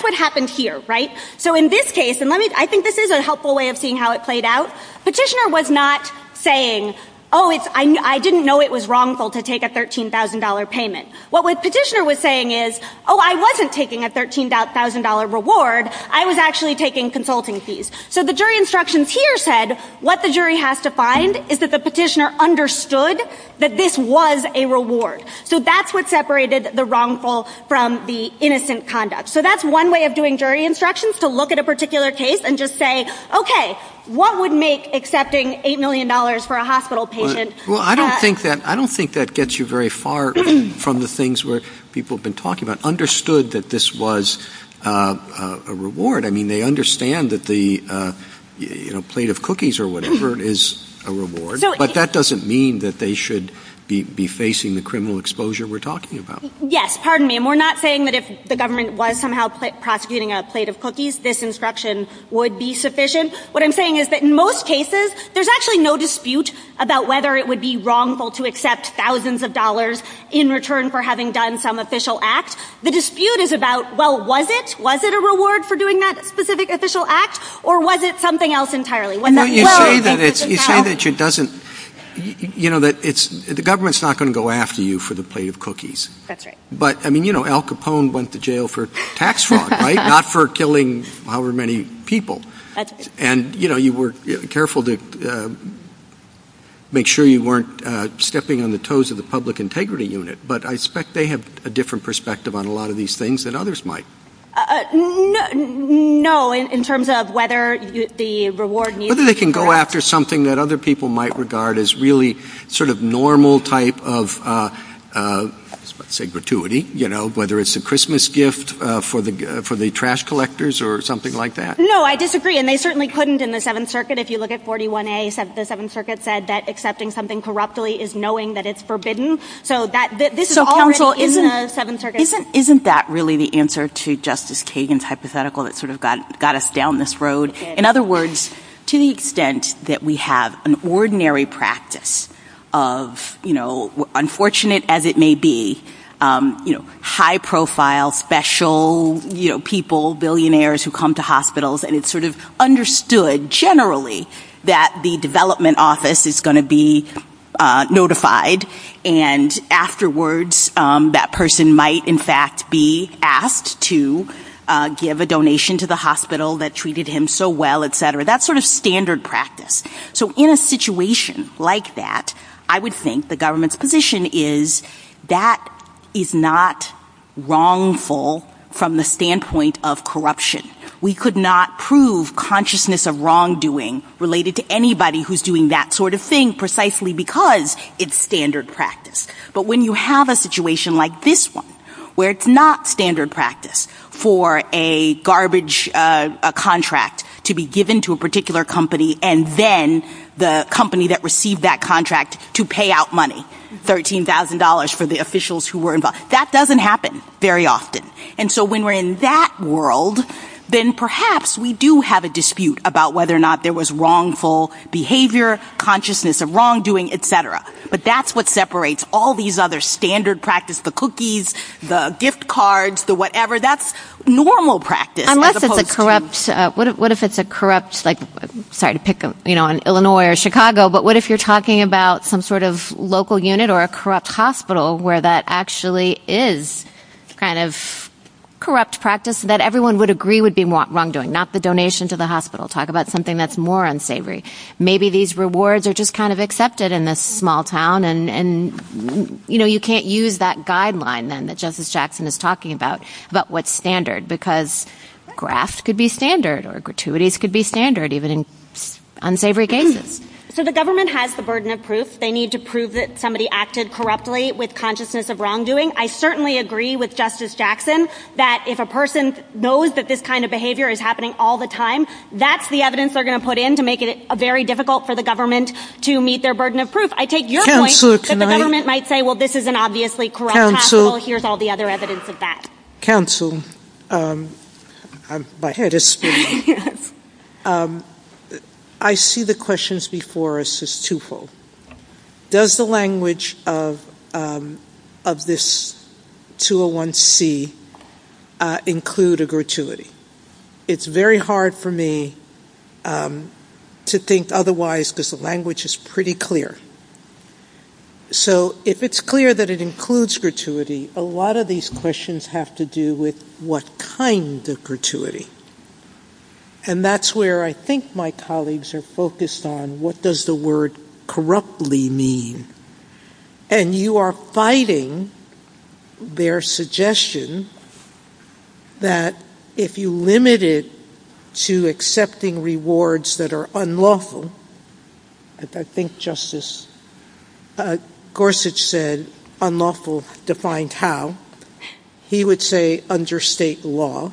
think this is a helpful way of seeing how it played out. Petitioner was not saying, oh, I didn't know it was wrongful to take a $13,000 payment. What the petitioner was saying is, oh, I wasn't taking a $13,000 reward. I was actually taking consulting fees. So the jury instructions here said what the jury has to find is that the petitioner understood that this was a reward. So that's what separated the wrongful from the innocent conduct. So that's one way of jury instructions to look at a particular case and just say, okay, what would make accepting $8 million for a hospital payment? Well, I don't think that gets you very far from the things where people have been talking about understood that this was a reward. I mean, they understand that the plate of cookies or whatever is a reward, but that doesn't mean that they should be facing the criminal exposure we're talking about. Yes. Pardon me. And we're not saying that if the government was somehow prosecuting a plate of cookies, this instruction would be sufficient. What I'm saying is that in most cases, there's actually no dispute about whether it would be wrongful to accept thousands of dollars in return for having done some official acts. The dispute is about, well, was it, was it a reward for doing that specific official act or was it something else entirely? You know, that it's, the government's not going to go after you for the plate of cookies, but I mean, you know, Al Capone went to jail for tax fraud, right? Not for killing however many people. And, you know, you were careful to make sure you weren't stepping on the toes of the public integrity unit, but I expect they have a different perspective on a lot of these things than others might. No, in terms of whether the reward. Maybe they can go after something that other people might regard as really sort of normal type of, uh, uh, say gratuity, you know, whether it's a Christmas gift, uh, for the, uh, for the trash collectors or something like that. No, I disagree. And they certainly couldn't in the seventh circuit. If you look at 41A, the seventh circuit said that accepting something corruptly is knowing that it's forbidden. So that this is all in the seventh circuit. Isn't that really the answer to Justice Kagan's hypothetical that sort of got, got us down this road. In other words, to the extent that we have an ordinary practice of, you know, unfortunate as it may be, um, you know, high profile, special, you know, people, billionaires who come to hospitals and it's sort of understood generally that the development office is going to be, uh, notified. And afterwards, um, that person might in fact be asked to, uh, give a donation to the hospital that sort of standard practice. So in a situation like that, I would think the government's position is that is not wrongful from the standpoint of corruption. We could not prove consciousness of wrongdoing related to anybody who's doing that sort of thing precisely because it's standard practice. But when you have a situation like this one, where it's not standard practice for a garbage, uh, a contract to be given to a particular company, and then the company that received that contract to pay out money, $13,000 for the officials who were involved, that doesn't happen very often. And so when we're in that world, then perhaps we do have a dispute about whether or not there was wrongful behavior, consciousness of wrongdoing, et cetera. But that's what separates all these other standard practice, the cookies, the gift cards, the whatever, that's normal practice. Unless it's a corrupt, uh, what if, what if it's a corrupt, like, sorry to pick them, you know, in Illinois or Chicago, but what if you're talking about some sort of local unit or a corrupt hospital where that actually is kind of corrupt practice that everyone would agree would be wrongdoing, not the donation to the hospital. Talk about something that's more unsavory. Maybe these rewards are just kind of accepted in this small town and, and, you know, you can't use that guideline that Justice Jackson is talking about, but what's standard because grafts could be standard or gratuities could be standard, even in unsavory cases. So the government has the burden of proof. They need to prove that somebody acted corruptly with consciousness of wrongdoing. I certainly agree with Justice Jackson that if a person knows that this kind of behavior is happening all the time, that's the evidence they're going to put in to make it very difficult for the government to meet their burden of proof. I take your point that the government might say, well, this is an obviously corrupt hospital, here's all the other evidence of that. Counsel, my head is spinning. I see the questions before us as twofold. Does the language of, of this 201C include a gratuity? It's very hard for me to think otherwise, because the language is pretty clear. So if it's clear that it includes gratuity, a lot of these questions have to do with what kind of gratuity. And that's where I think my colleagues are focused on what does the word unlawful. I think Justice Gorsuch said unlawful defined how. He would say under state law,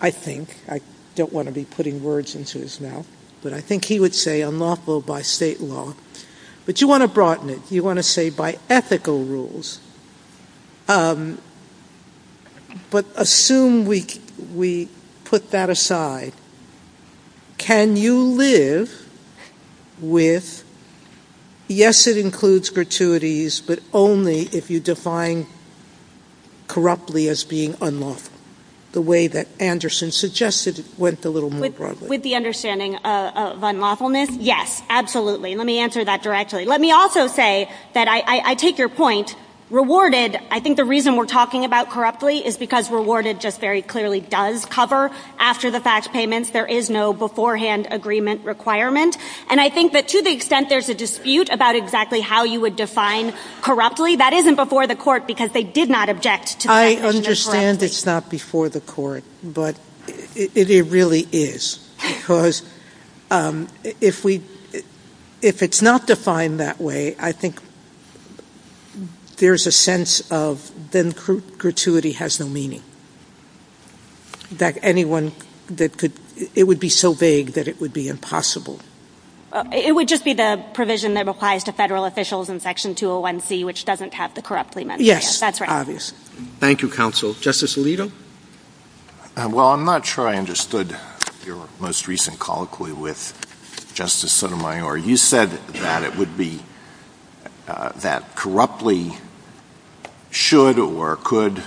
I think. I don't want to be putting words into his mouth. But I think he would say unlawful by state law. But you want to broaden it. You want to say by ethical rules. But assume we, we put that aside. Can you live with, yes, it includes gratuities, but only if you define corruptly as being unlawful, the way that Anderson suggested it went a little more broadly. With the understanding of unlawfulness? Yes, absolutely. Let me answer that directly. Let me also say that I take your point. Rewarded, I think the reason we're talking about corruptly is because rewarded just very clearly does cover after the fax payments. There is no beforehand agreement requirement. And I think that to the extent there's a dispute about exactly how you would define corruptly, that isn't before the court because they did not object. I understand it's not before the court, but it really is. Because if we, if it's not defined that way, I think there's a sense of then gratuity has no meaning. That anyone that could, it would be so vague that it would be impossible. It would just be the provision that applies to federal officials in section 201C, which doesn't cut the corruptly. Yes, that's right. Thank you, counsel. Justice Alito. Well, I'm not sure I understood your most recent colloquy with Justice Sotomayor. You said that it would be that corruptly should or could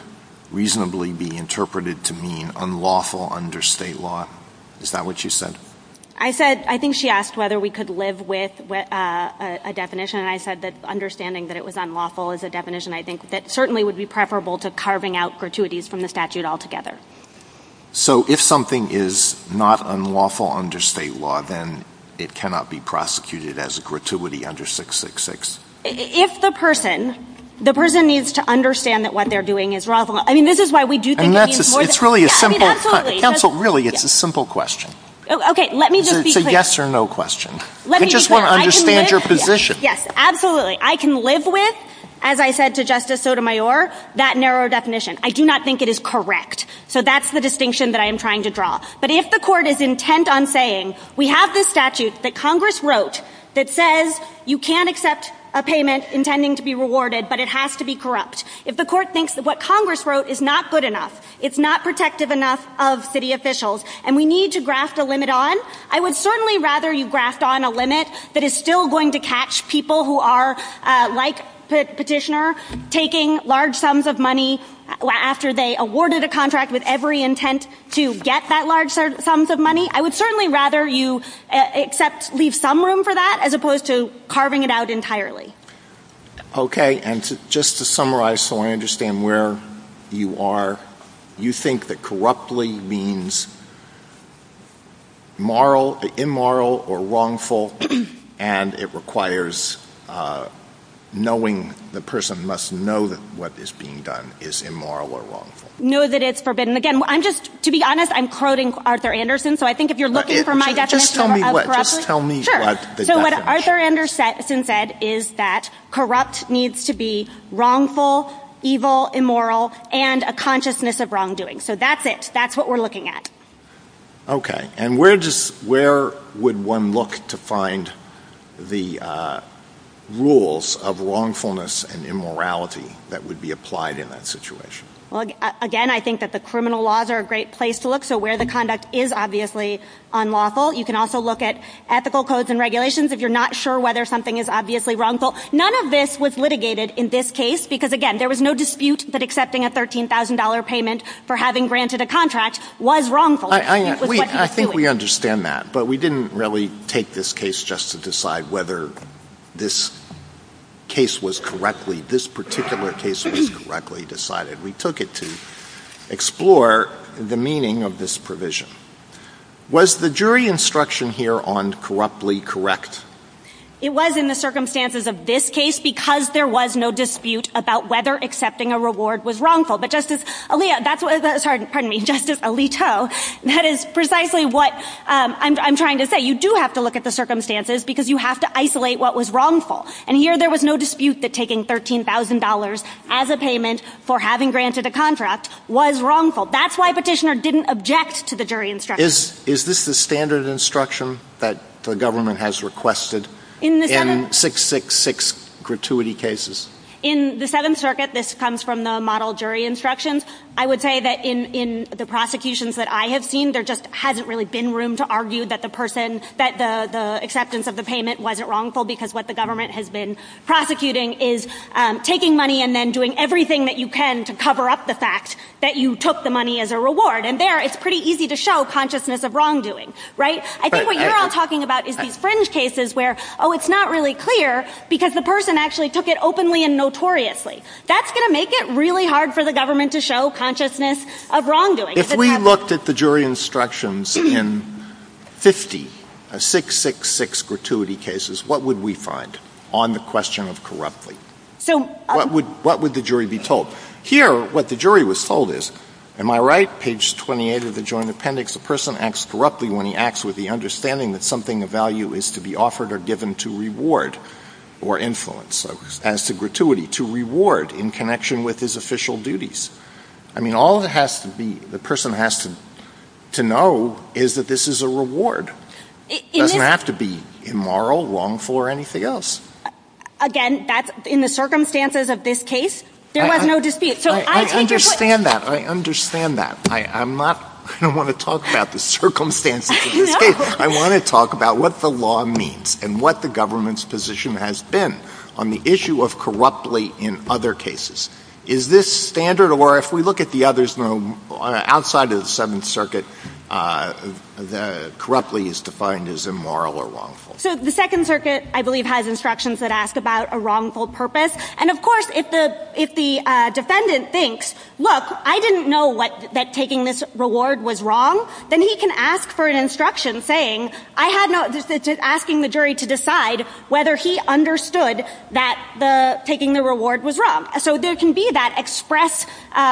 reasonably be interpreted to mean unlawful under state law. Is that what you said? I said, I think she asked whether we could live with a definition. And I said that understanding that it was unlawful is a definition I think that certainly would be preferable to carving out gratuities from the statute altogether. So if something is not unlawful under state law, then it cannot be prosecuted as a gratuity under 666. If the person, the person needs to understand that what they're doing is wrong. I mean, this is why we do think it means more than that. It's really a simple, really, it's a simple question. Okay. Let me just be clear. Let me be clear. I can live with, as I said to Justice Sotomayor, that narrow definition. I do not think it is correct. So that's the distinction that I am trying to draw. But if the court is intent on saying we have the statute that Congress wrote that says you can't accept a payment intending to be rewarded, but it has to be corrupt. If the court thinks that what Congress wrote is not good enough, it's not protective enough of city officials, and we need to grasp the limit on, I would certainly rather you grasp on a limit that is still going to catch people who are, like the petitioner, taking large sums of money after they awarded a contract with every intent to get that large sums of money. I would certainly rather you accept, leave some room for that, as opposed to carving it out entirely. Okay. And just to summarize so I understand where you are, you think that corruptly means immoral, immoral or wrongful, and it requires knowing, the person must know that what is being done is immoral or wrongful. Know that it's forbidden. Again, I'm just, to be honest, I'm quoting Arthur Anderson. So I think if you're looking for my definition of corruptly. Just tell me what the definition is. Sure. So what Arthur Anderson said is that corrupt needs to be wrongful, evil, immoral, and a consciousness of wrongdoing. So that's it. That's what we're looking at. Okay. And where would one look to find the rules of wrongfulness and immorality that would be applied in that situation? Well, again, I think that the criminal laws are a great place to look. So where the conduct is obviously unlawful. You can also look at ethical codes and regulations if you're not sure whether something is obviously wrongful. None of this was litigated in this case, because again, there was no dispute that accepting a $13,000 payment for having granted a contract was wrongful. I think we understand that, but we didn't really take this case just to decide whether this case was correctly, this particular case was correctly decided. We took it to explore the meaning of this provision. Was the jury instruction here on corruptly correct? It was in the circumstances of this case, because there was no dispute about whether accepting a reward was wrongful, but Justice Alito, that is precisely what I'm trying to say. You do have to look at the circumstances because you have to isolate what was wrongful. And here there was no dispute that taking $13,000 as a payment for having granted a contract was wrongful. That's why Petitioner didn't object to the jury instruction. Is this the standard instruction that the gratuity cases? In the Seventh Circuit, this comes from the model jury instruction. I would say that in the prosecutions that I have seen, there just hasn't really been room to argue that the acceptance of the payment wasn't wrongful because what the government has been prosecuting is taking money and then doing everything that you can to cover up the fact that you took the money as a reward. And there it's pretty easy to show consciousness of wrongdoing, right? I think what you're all talking about is these fringe cases where, oh, it's not really clear because the person actually took it openly and notoriously. That's going to make it really hard for the government to show consciousness of wrongdoing. If we looked at the jury instructions in 50, 666 gratuity cases, what would we find on the question of corruptly? What would the jury be told? Here, what the jury was told is, am I right, page 28 of the Joint Appendix, a person acts corruptly when he acts with the understanding that something of value is to be offered or given to reward or influence as to gratuity to reward in connection with his official duties. I mean, all it has to be, the person has to know is that this is a reward. It doesn't have to be immoral, wrongful, or anything else. Again, that's in the circumstances of this case, there was no dispute. So I understand that. I understand that. I'm not, I don't want to talk about the circumstances. I want to talk about what the law means and what the government's position has been on the issue of corruptly in other cases. Is this standard? Or if we look at the others outside of the Seventh Circuit, corruptly is defined as immoral or wrongful. So the Second Circuit, I believe, has instructions that ask about a wrongful purpose. And of course, if the defendant thinks, look, I didn't know that taking this reward was wrong, then he can ask for an instruction saying, I had no decision, asking the jury to decide whether he understood that taking the reward was wrong. So there can be that express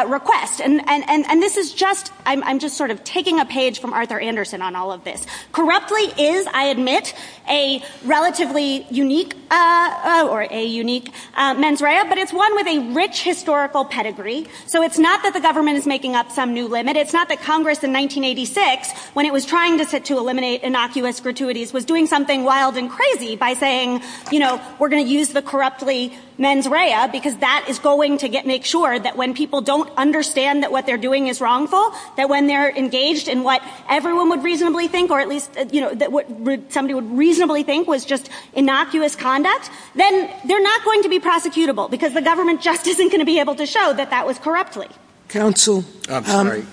request. And this is just, I'm just sort of taking a page from Arthur Anderson on all of this. Corruptly is, I admit, a relatively unique, or a unique mens rea, but it's one with a rich historical pedigree. So it's not that the government is making up some new limit. It's not that Congress in 1986, when it was trying to eliminate innocuous gratuities, was doing something wild and crazy by saying, you know, we're going to use the corruptly mens rea because that is going to make sure that when people don't understand that what they're doing is wrongful, that when they're engaged in what everyone would reasonably think was just innocuous conduct, then they're not going to be prosecutable because the government just isn't going to be able to show that that was corruptly. Counsel? I'm sorry.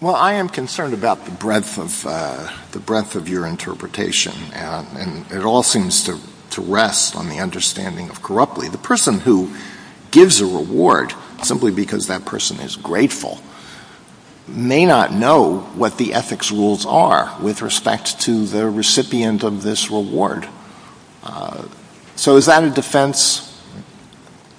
Well, I am concerned about the breadth of, the breadth of your interpretation, and it all seems to rest on the understanding of corruptly. The person who gives a reward simply because that person is grateful may not know what the ethics rules are with respect to the recipient of this reward. So is that a defense?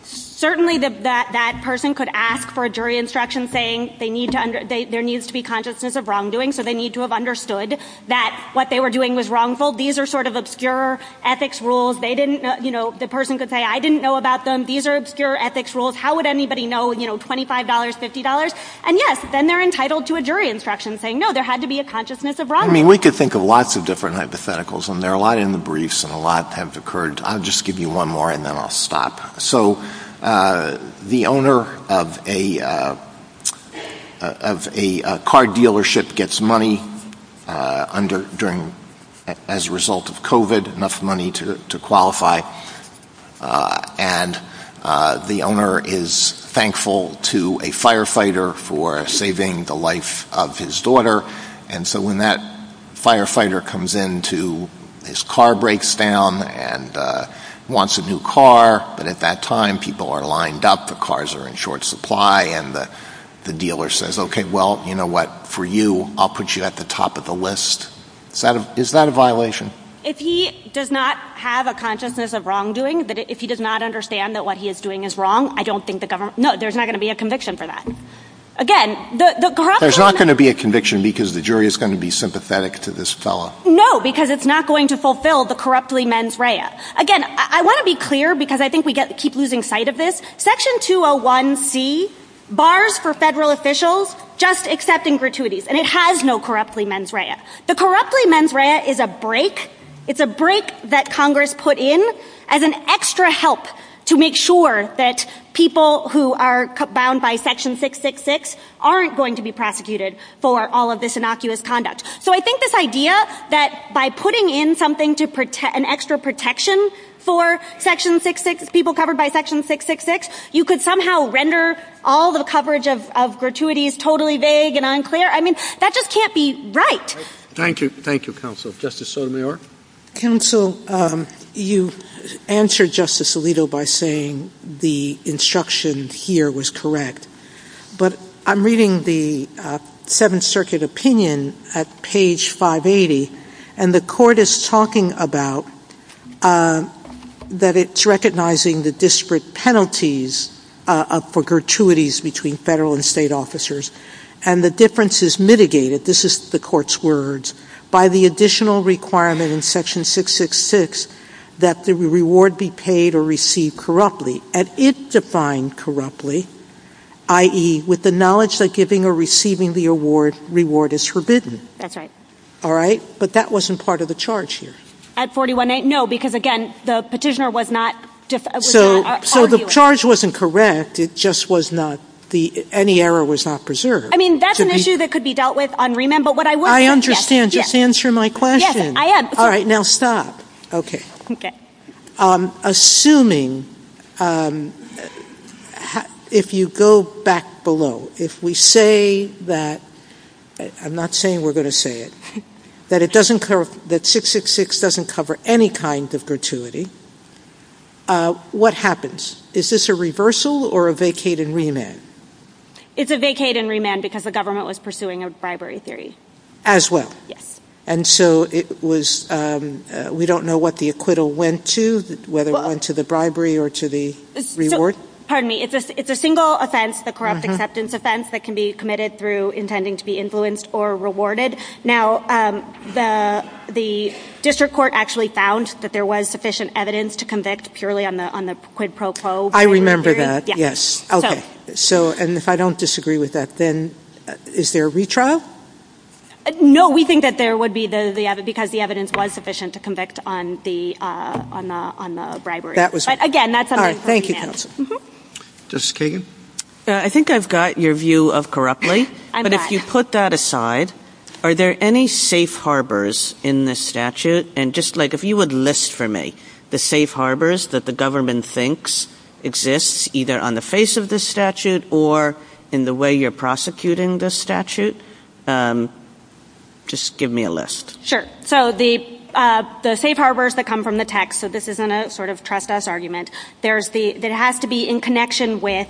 Certainly that that person could ask for a jury instruction saying they need to, there needs to be consciousness of wrongdoing, so they need to have understood that what they were doing was wrongful. These are sort of obscure ethics rules. They didn't, you know, the person could say, I didn't know about them. These are obscure ethics rules. How would anybody know, you know, $25, $50? And yes, then they're entitled to a jury instruction saying, no, there had to be a consciousness of wrong. I mean, we could think of lots of different hypotheticals and there are a lot in the briefs and a lot have occurred. I'll just give you one more and then I'll stop. So the owner of a, of a car dealership gets money during, as a result of COVID, enough money to qualify. And the owner is thankful to a firefighter for saving the life of his daughter. And so when that firefighter comes into, his car breaks down and wants a new car, but at that time people are lined up, the cars are in short supply and the dealer says, okay, well, you know what, for you, I'll put you at the top of the list. It's not a violation. If he does not have a consciousness of wrongdoing, that if he does not understand that what he is doing is wrong, I don't think the government, no, there's not going to be a conviction for that. Again, there's not going to be a conviction because the jury is going to be sympathetic to this fellow. No, because it's not going to fulfill the corruptly mens rea. Again, I want to be clear because I think we get, keep losing sight of this section 201 C bars for federal officials, just accepting gratuities. And it has no corruptly mens rea. The corruptly mens rea is a break. It's a break that Congress put in as an extra help to make sure that people who are bound by section 666 aren't going to be prosecuted for all of this innocuous conduct. So I think this idea that by putting in something to protect an extra protection for section 666, people covered by section 666, you could somehow render all the coverage of gratuities totally vague and unclear. I mean, that just can't be right. Thank you. Thank you, counsel. Justice Sotomayor. Counsel, you answered Justice Alito by saying the instruction here was correct, but I'm reading the Seventh Circuit opinion at page 580, and the court is talking about that it's recognizing the disparate penalties for gratuities between federal and state officers, and the difference is mitigated, this is the court's words, by the additional requirement in section 666 that the reward be paid or received corruptly. And it defined corruptly, i.e. with the knowledge that giving or receiving the reward is forbidden. That's right. All right. But that wasn't part of the charge here. At 418, no, because, again, the petitioner was not arguing. So the charge wasn't correct, it just was not, any error was not preserved. I mean, that's an issue that could be dealt with on remand, but what I would say is yes. I understand. Just answer my question. Yes, I am. All right, now stop. Okay. Assuming, if you go back below, if we say that, I'm not saying we're going to say it, that it doesn't, that 666 doesn't cover any kind of gratuity, what happens? Is this a reversal or a vacate and remand? It's a vacate and remand because the government was pursuing a bribery theory. As well? Yes. And so it was, we don't know what the acquittal went to, whether it went to the bribery or to the reward? Pardon me, it's a single offense, the corrupt acceptance offense, that can be committed through intending to be influenced or rewarded. Now, the district court actually found that there was sufficient evidence to convict purely on the quid pro quo. I remember that, yes. Okay. So, and if I don't disagree with that, then is there a retrial? No, we think that there would be, because the evidence was sufficient to convict on the bribery. That was... Again, that's our... All right, thank you, counsel. Justice Kagan? I think I've got your view of corruptly, but if you put that aside, are there any safe harbors in this statute? And just like, if you would list for me the safe harbors that the government thinks exists, either on the face of this statute or in the way you're prosecuting this statute, just give me a list. Sure. So the safe harbors that come from the text, so this isn't a sort of trespass argument, that has to be in connection with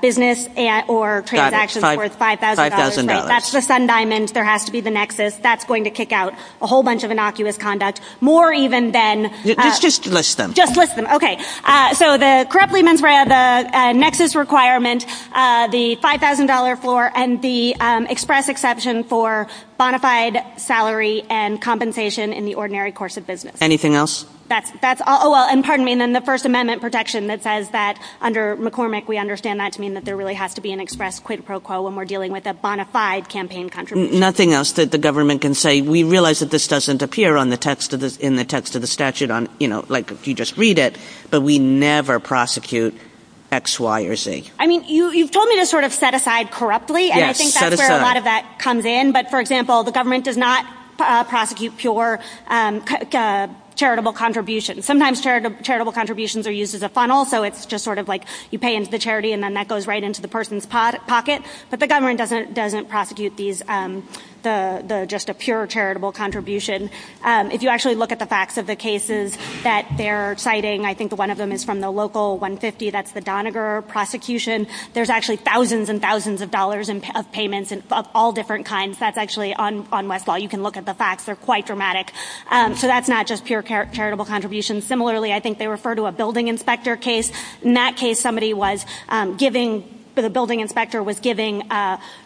business or transactions worth $5,000. Got it. $5,000. That's the sun diamonds. There has to be the nexus. That's going to kick out a whole bunch of innocuous conduct, more even than... Let's just list them. Just list them. Okay. So the corruptly mentored nexus requirement, the $5,000 floor, and the express exception for bonafide salary and compensation in the ordinary course of business. Anything else? Well, and pardon me, and then the First Amendment protection that says that under McCormick, we understand that to mean that there really has to be an express quid pro quo when we're dealing with a bonafide campaign contribution. Nothing else that the government can say. We realize that this doesn't appear in the text of the statute, like if you just read it, but we never prosecute X, Y, or Z. I mean, you've told me to sort of set aside corruptly, and I think that's where a lot of comes in. But for example, the government does not prosecute pure charitable contributions. Sometimes charitable contributions are used as a funnel, so it's just sort of like you pay into the charity, and then that goes right into the person's pocket. But the government doesn't prosecute just a pure charitable contribution. If you actually look at the facts of the cases that they're citing, I think one of them is from the local 150, that's the Doniger prosecution. There's actually thousands and thousands of dollars of payments of all different kinds. That's actually on Westlaw. You can look at the facts. They're quite dramatic. So that's not just pure charitable contributions. Similarly, I think they refer to a building inspector case. In that case, somebody was giving, the building inspector was giving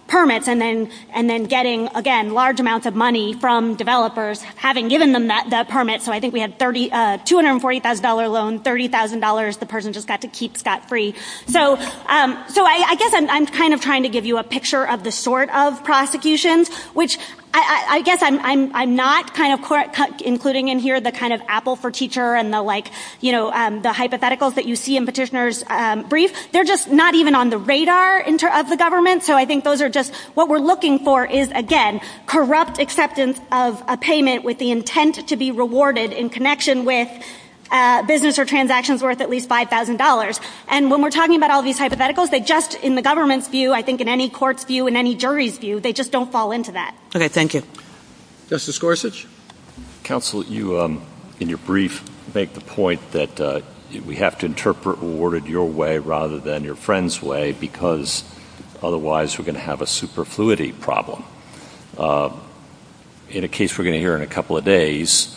permits and then getting, again, large amounts of money from developers having given them that permit. So I think we had $240,000 loan, $30,000, the person just got to keep Scott free. So I guess I'm kind of trying to give you a picture of the sort of prosecutions, which I guess I'm not kind of including in here the kind of apple for teacher and the hypotheticals that you see in petitioners' briefs. They're just not even on the radar of the government. So I think those are just, what we're looking for is, again, corrupt acceptance of a payment with the intent to be rewarded in connection with business or transactions worth at least $5,000. And when we're talking about all these hypotheticals, they just, in the government's view, I think in any court's view, in any jury's view, they just don't fall into that. Okay. Thank you. Justice Gorsuch, counsel, you, in your brief, make the point that we have to interpret rewarded your way rather than your friend's way because otherwise we're going to have a superfluity problem. In a case we're going to hear in a couple of days,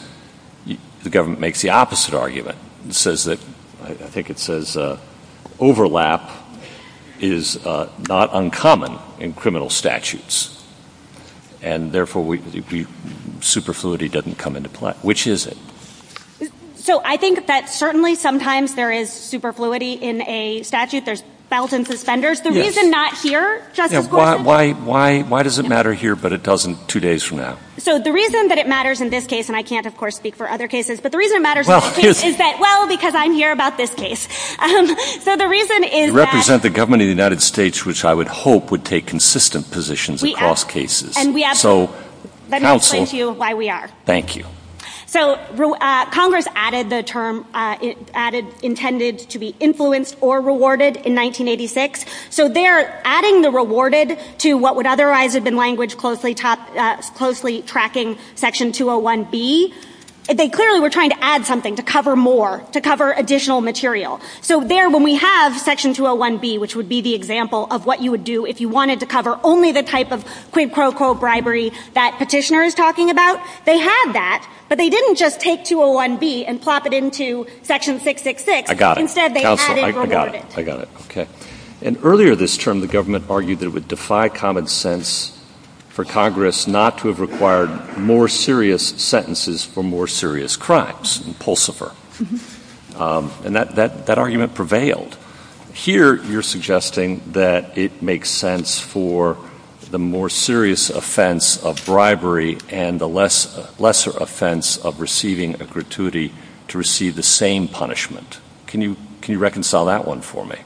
the government makes the opposite argument and says that, I think it says, overlap is not uncommon in criminal statutes. And therefore, superfluity doesn't come into play. Which is it? So I think that certainly sometimes there is superfluity in a statute. There's thousands of offenders. The reason not here, Justice Gorsuch. Why does it matter here, but it doesn't two days from now? So the reason that it matters in this case, and I can't, of course, speak for other cases, but the reason it matters is that, well, because I'm here about this case. So the reason is that- You represent the government of the United States, which I would hope would take consistent positions across cases. And we have- So counsel- Let me explain to you why we are. Thank you. So Congress added the term, added intended to be influenced or rewarded in 1986. So they're tracking section 201B. They clearly were trying to add something to cover more, to cover additional material. So there, when we have section 201B, which would be the example of what you would do if you wanted to cover only the type of quid pro quo bribery that petitioner is talking about, they have that, but they didn't just take 201B and plop it into section 666. I got it. Instead, they added rewarded. I got it. Okay. And earlier this term, the government argued that it would defy common sense for Congress not to have required more serious sentences for more serious crimes in Pulsifer. And that argument prevailed. Here, you're suggesting that it makes sense for the more serious offense of bribery and the lesser offense of receiving a gratuity to receive the same punishment. Can you reconcile that one for me?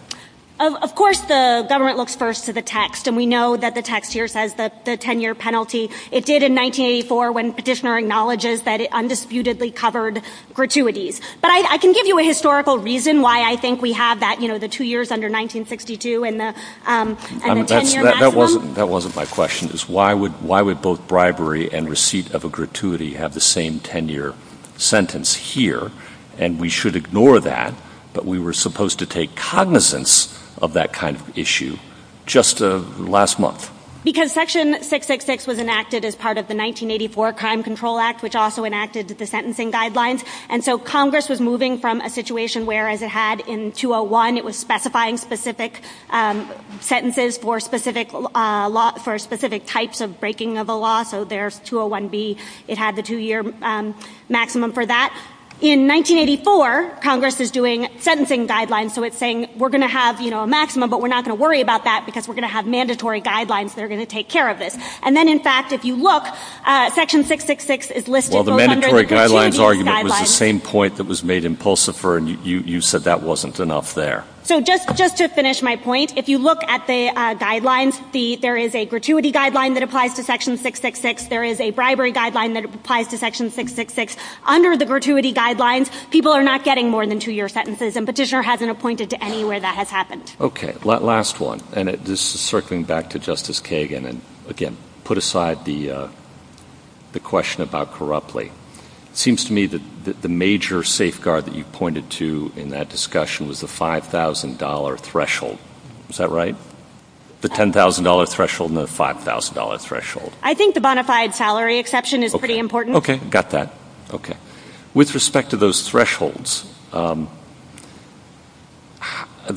Of course, the government looks first to the text, and we know that the text here says that the 10-year penalty, it did in 1984 when petitioner acknowledges that it undisputedly covered gratuities. But I can give you a historical reason why I think we have that, you know, the two years under 1962 and the 10-year maximum. That wasn't my question, is why would both bribery and receipt of a gratuity have the same 10-year sentence here? And we should ignore that, but we were supposed to take cognizance of that kind of issue just last month. Because Section 666 was enacted as part of the 1984 Crime Control Act, which also enacted the sentencing guidelines. And so Congress was moving from a situation where, as it had in 201, it was specifying specific sentences for specific types of breaking of the law. So there's 201B, it had the two-year maximum for that. In 1984, Congress is doing sentencing guidelines, so it's saying, we're going to have a maximum, but we're not going to worry about that because we're going to have mandatory guidelines that are going to take care of this. And then, in fact, if you look, Section 666 is listed under the 10-year guidelines. Well, the mandatory guidelines argument was the same point that was made in Pulsifer, and you said that wasn't enough there. So just to finish my point, if you look at the guidelines, there is a gratuity guideline that applies to Section 666. There is a bribery guideline that applies to Section 666. Under the gratuity guidelines, people are not getting more than two-year sentences, and Petitioner hasn't pointed to anywhere that has happened. Okay. Last one, and this is circling back to Justice Kagan, and, again, put aside the question about corruptly. It seems to me that the major safeguard that you pointed to in that discussion was the $5,000 threshold. Is that right? The $10,000 threshold and the $5,000 threshold? I think the bona fide salary exception is pretty important. Okay. Got that. Okay. With respect to those thresholds, the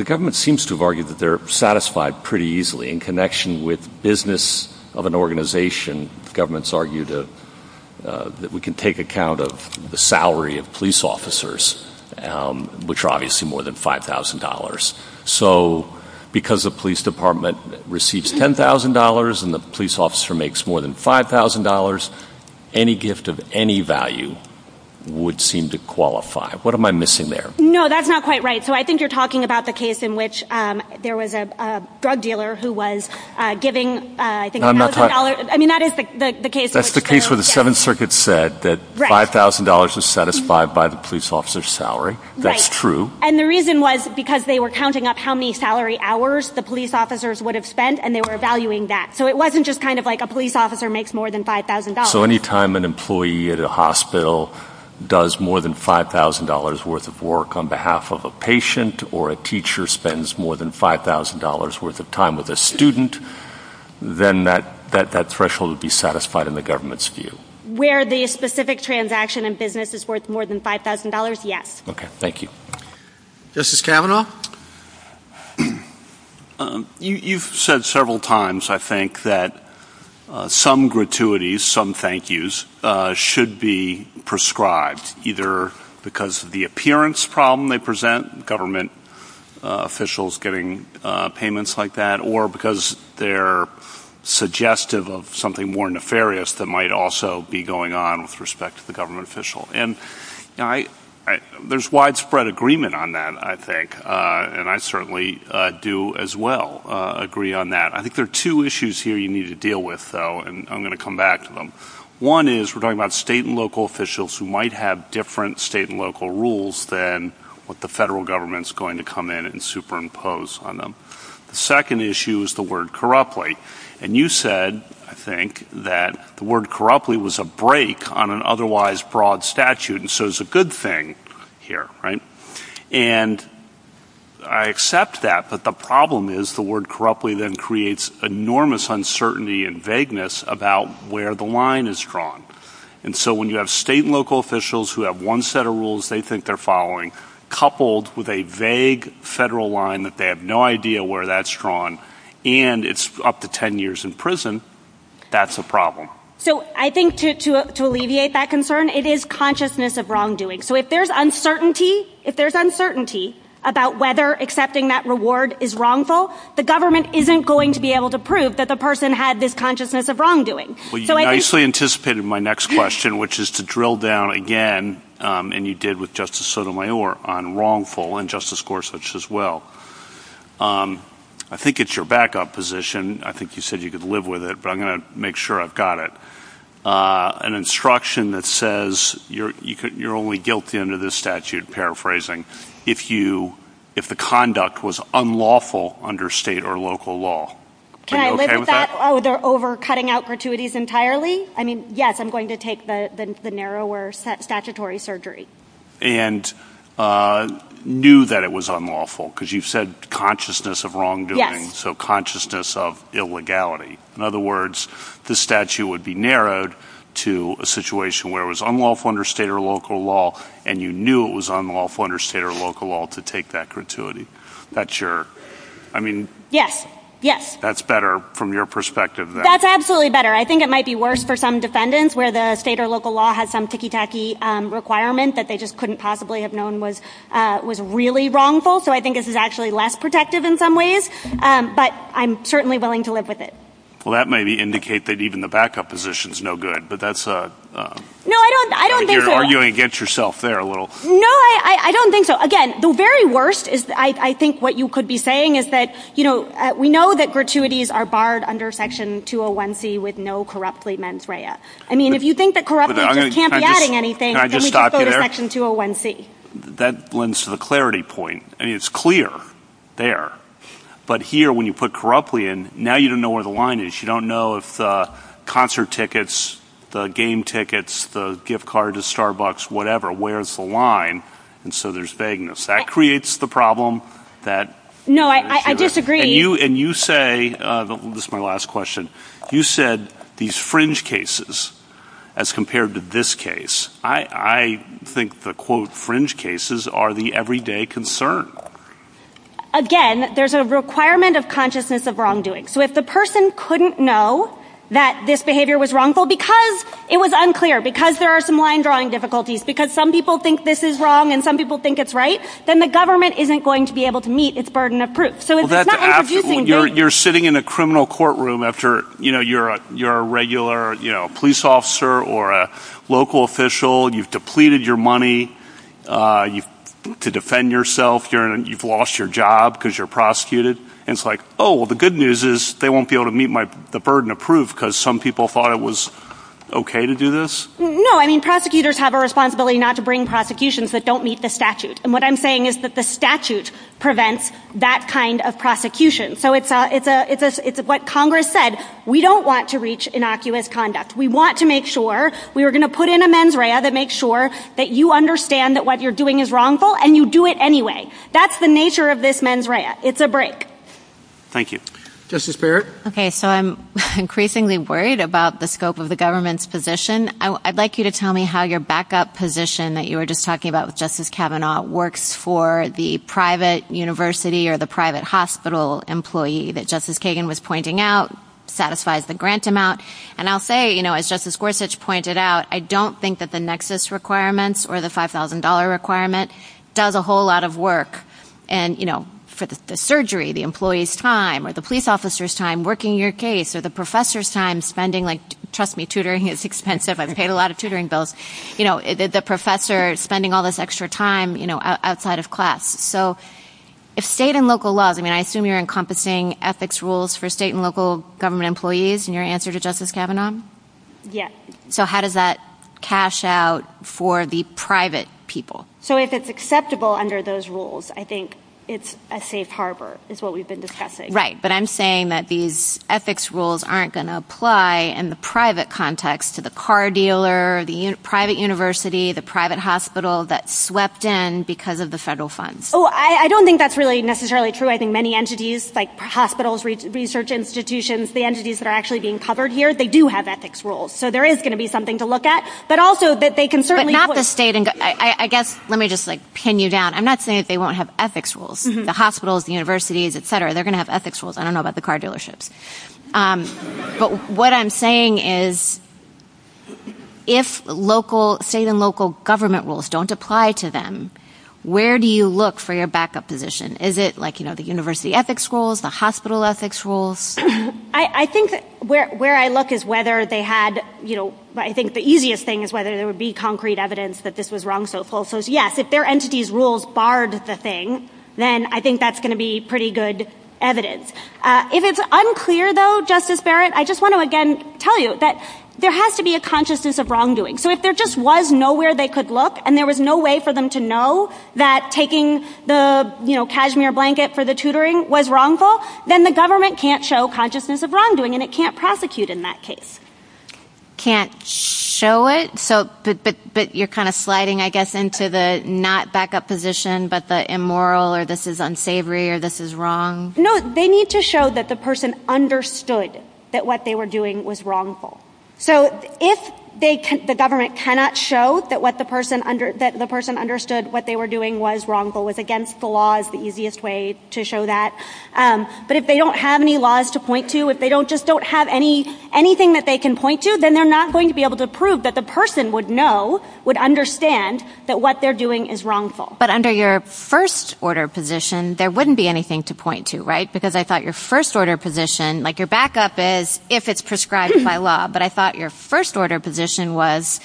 government seems to have argued that they're satisfied pretty easily. In connection with business of an organization, governments argue that we can take account of the salary of police officers, which are obviously more than $5,000. So because the police department receives $10,000 and the police department receives $5,000, the $5,000 threshold of any value would seem to qualify. What am I missing there? No, that's not quite right. So I think you're talking about the case in which there was a drug dealer who was giving, I think, $1,000. I mean, that is the case. That's the case where the Seventh Circuit said that $5,000 is satisfied by the police officer's salary. That's true. Right. And the reason was because they were counting up how many salary hours the police at a hospital does more than $5,000 worth of work on behalf of a patient or a teacher spends more than $5,000 worth of time with a student, then that threshold would be satisfied in the government's view. Where the specific transaction in business is worth more than $5,000, yes. Okay. Thank you. Justice Kavanaugh? You've said several times, I think, that some gratuities, some thank yous should be prescribed, either because of the appearance problem they present, government officials getting payments like that, or because they're suggestive of something more nefarious that might also be going on with respect to the government official. And there's widespread agreement on that, I think, and I certainly do as well agree on that. I think there are two issues here you need to deal with, though, and I'm going to come back to them. One is we're talking about state and local officials who might have different state and local rules than what the federal government's going to come in and superimpose on them. The second issue is the word corruptly. And you said, I think, that the word corruptly was a break on an otherwise broad statute, and so it's a good thing here, right? And I accept that, but the problem is the word corruptly then creates enormous uncertainty and vagueness about where the line is drawn. And so when you have state and local officials who have one set of rules they think they're following, coupled with a vague federal line that they have no idea where that's drawn, and it's up to 10 years in prison, that's a problem. So I think to alleviate that concern, it is consciousness of wrongdoing. So if there's uncertainty about whether accepting that reward is wrongful, the government isn't going to be able to prove that the person had this consciousness of wrongdoing. Well, you nicely anticipated my next question, which is to drill down again, and you did with Justice Sotomayor on wrongful and Justice Gorsuch as well. I think it's your backup position. I think you said you could live with it, but I'm going to make sure I've got it. An instruction that says you're only guilty under this statute, paraphrasing, if the conduct was unlawful under state or local law. Can I live with that? Oh, they're over cutting out fortuities entirely? I mean, yes, I'm going to take the narrower statutory surgery. And knew that it was unlawful, because you've said consciousness of wrongdoing. So consciousness of illegality. In other words, the statute would be narrowed to a situation where it was unlawful under state or local law, and you knew it was unlawful under state or local law to take that gratuity. That's your, I mean. Yes, yes. That's better from your perspective. That's absolutely better. I think it might be worse for some defendants where the state or local law has some ticky that they just couldn't possibly have known was really wrongful. So I think this is actually less protective in some ways. But I'm certainly willing to live with it. Well, that may indicate that even the backup position is no good. But that's a. No, I don't. I don't think so. You're arguing against yourself there a little. No, I don't think so. Again, the very worst is, I think what you could be saying is that, you know, we know that gratuities are barred under Section 201C with no corruptly meant raya. I mean, if you think that corruption can't be adding anything. So Section 201C. That lends to the clarity point. I mean, it's clear there. But here, when you put corruptly in now, you don't know where the line is. You don't know if the concert tickets, the game tickets, the gift card to Starbucks, whatever, where's the line. And so there's vagueness that creates the problem that. No, I disagree. And you say this is my last question. You said these fringe cases as compared to this case. I think the, quote, fringe cases are the everyday concern. Again, there's a requirement of consciousness of wrongdoing. So if the person couldn't know that this behavior was wrongful because it was unclear, because there are some line drawing difficulties, because some people think this is wrong and some people think it's right, then the government isn't going to be able to meet its burden of proof. So it's not introducing. You're sitting in a criminal courtroom after, you know, you're a regular police officer or a local official. You've depleted your money to defend yourself. You've lost your job because you're prosecuted. It's like, oh, well, the good news is they won't be able to meet the burden of proof because some people thought it was OK to do this. No, I mean, prosecutors have a responsibility not to bring prosecutions that don't meet the statute. And what I'm saying is that the statute prevents that kind of prosecution. So it's what Congress said. We don't want to reach innocuous conduct. We want to make sure we are going to put in a mens rea that makes sure that you understand that what you're doing is wrongful and you do it anyway. That's the nature of this mens rea. It's a break. Thank you. Justice Barrett. OK, so I'm increasingly worried about the scope of the government's position. I'd like you to tell me how your backup position that you were just talking about with Justice Kavanaugh works for the private university or the private hospital employee that Justice Kagan was pointing out satisfies the grant amount. And I'll say, as Justice Gorsuch pointed out, I don't think that the nexus requirements or the $5,000 requirement does a whole lot of work. And for the surgery, the employee's time, or the police officer's time working your case, or the professor's time spending, trust me, tutoring is expensive. I've paid a lot of tutoring bills. The professor spending all this extra time outside of class. So if state and local laws, I mean, I assume you're encompassing ethics rules for state and local government employees in your answer to Justice Kavanaugh? Yes. So how does that cash out for the private people? So if it's acceptable under those rules, I think it's a safe harbor is what we've been discussing. Right. But I'm saying that these ethics rules aren't going to apply in the private context to the car dealer, the private university, the private hospital that swept in because of the federal funds. Oh, I don't think that's really necessarily true. I think many entities like hospitals, research institutions, the entities that are actually being covered here, they do have ethics rules. So there is going to be something to look at. But also that they can certainly. But not the state. I guess let me just pin you down. I'm not saying that they won't have ethics rules. The hospitals, the universities, et cetera, they're going to have ethics rules. I don't know about the car dealerships. But what I'm saying is if state and local government rules don't apply to them, where do you look for your backup position? Is it like, you know, the university ethics rules, the hospital ethics rules? I think where I look is whether they had, you know, I think the easiest thing is whether there would be concrete evidence that this was wrongful. So yes, if their entities rules barred the thing, then I think that's going to be pretty good evidence. If it's unclear, though, Justice Barrett, I just want to again tell you that there has to be a consciousness of wrongdoing. So if there just was nowhere they could look and there was no way for them to know that taking the cashmere blanket for the tutoring was wrongful, then the government can't show consciousness of wrongdoing and it can't prosecute in that case. Can't show it? So you're kind of sliding, I guess, into the not backup position, but the immoral or this is unsavory or this is wrong. No, they need to show that the person understood that what they were doing was wrongful. So if the government cannot show that what the person understood what they were doing was wrongful with against the law is the easiest way to show that. But if they don't have any laws to point to, if they don't just don't have any anything that they can point to, then they're not going to be able to prove that the person would know, would understand that what they're doing is wrongful. But under your first order position, there wouldn't be anything to point to, right? Because I thought your first order position, like your backup is if it's prescribed by law. But I thought your first order position was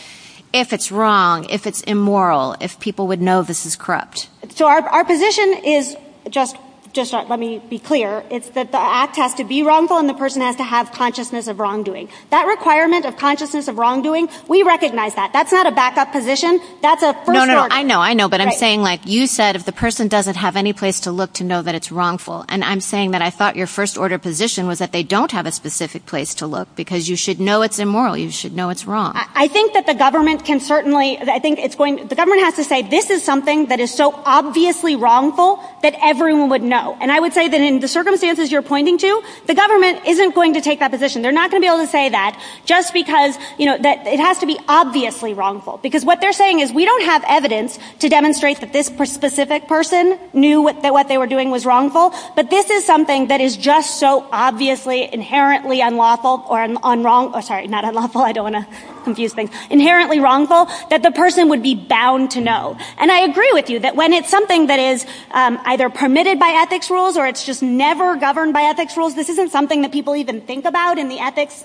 if it's wrong, if it's immoral, if people would know this is corrupt. So our position is just just let me be clear. It's that the act has to be wrongful and the person has to have consciousness of wrongdoing. That requirement of consciousness of wrongdoing. We recognize that that's not a backup position. That's a no, no, no. I know. I know. But I'm saying like you said, if the person doesn't have any place to look to know that it's wrongful. And I'm saying that I thought your first order position was that they don't have a specific place to look because you should know it's immoral. You should know it's wrong. I think that the government can certainly I think it's going the government has to say this is something that is so obviously wrongful that everyone would know. And I would say that in the circumstances you're pointing to, the government isn't going to take that position. They're not going to be able to say that just because you know that it has to be obviously wrongful because what they're saying is we don't have evidence to demonstrate that this specific person knew that what they were doing was wrongful. But this is something that is just so obviously inherently unlawful or unwrongful. Sorry, not unlawful. I don't want to confuse things. Inherently wrongful that the person would be bound to know. And I agree with you that when it's something that is either permitted by ethics rules or it's just never governed by ethics rules, this isn't something that people even think about in the ethics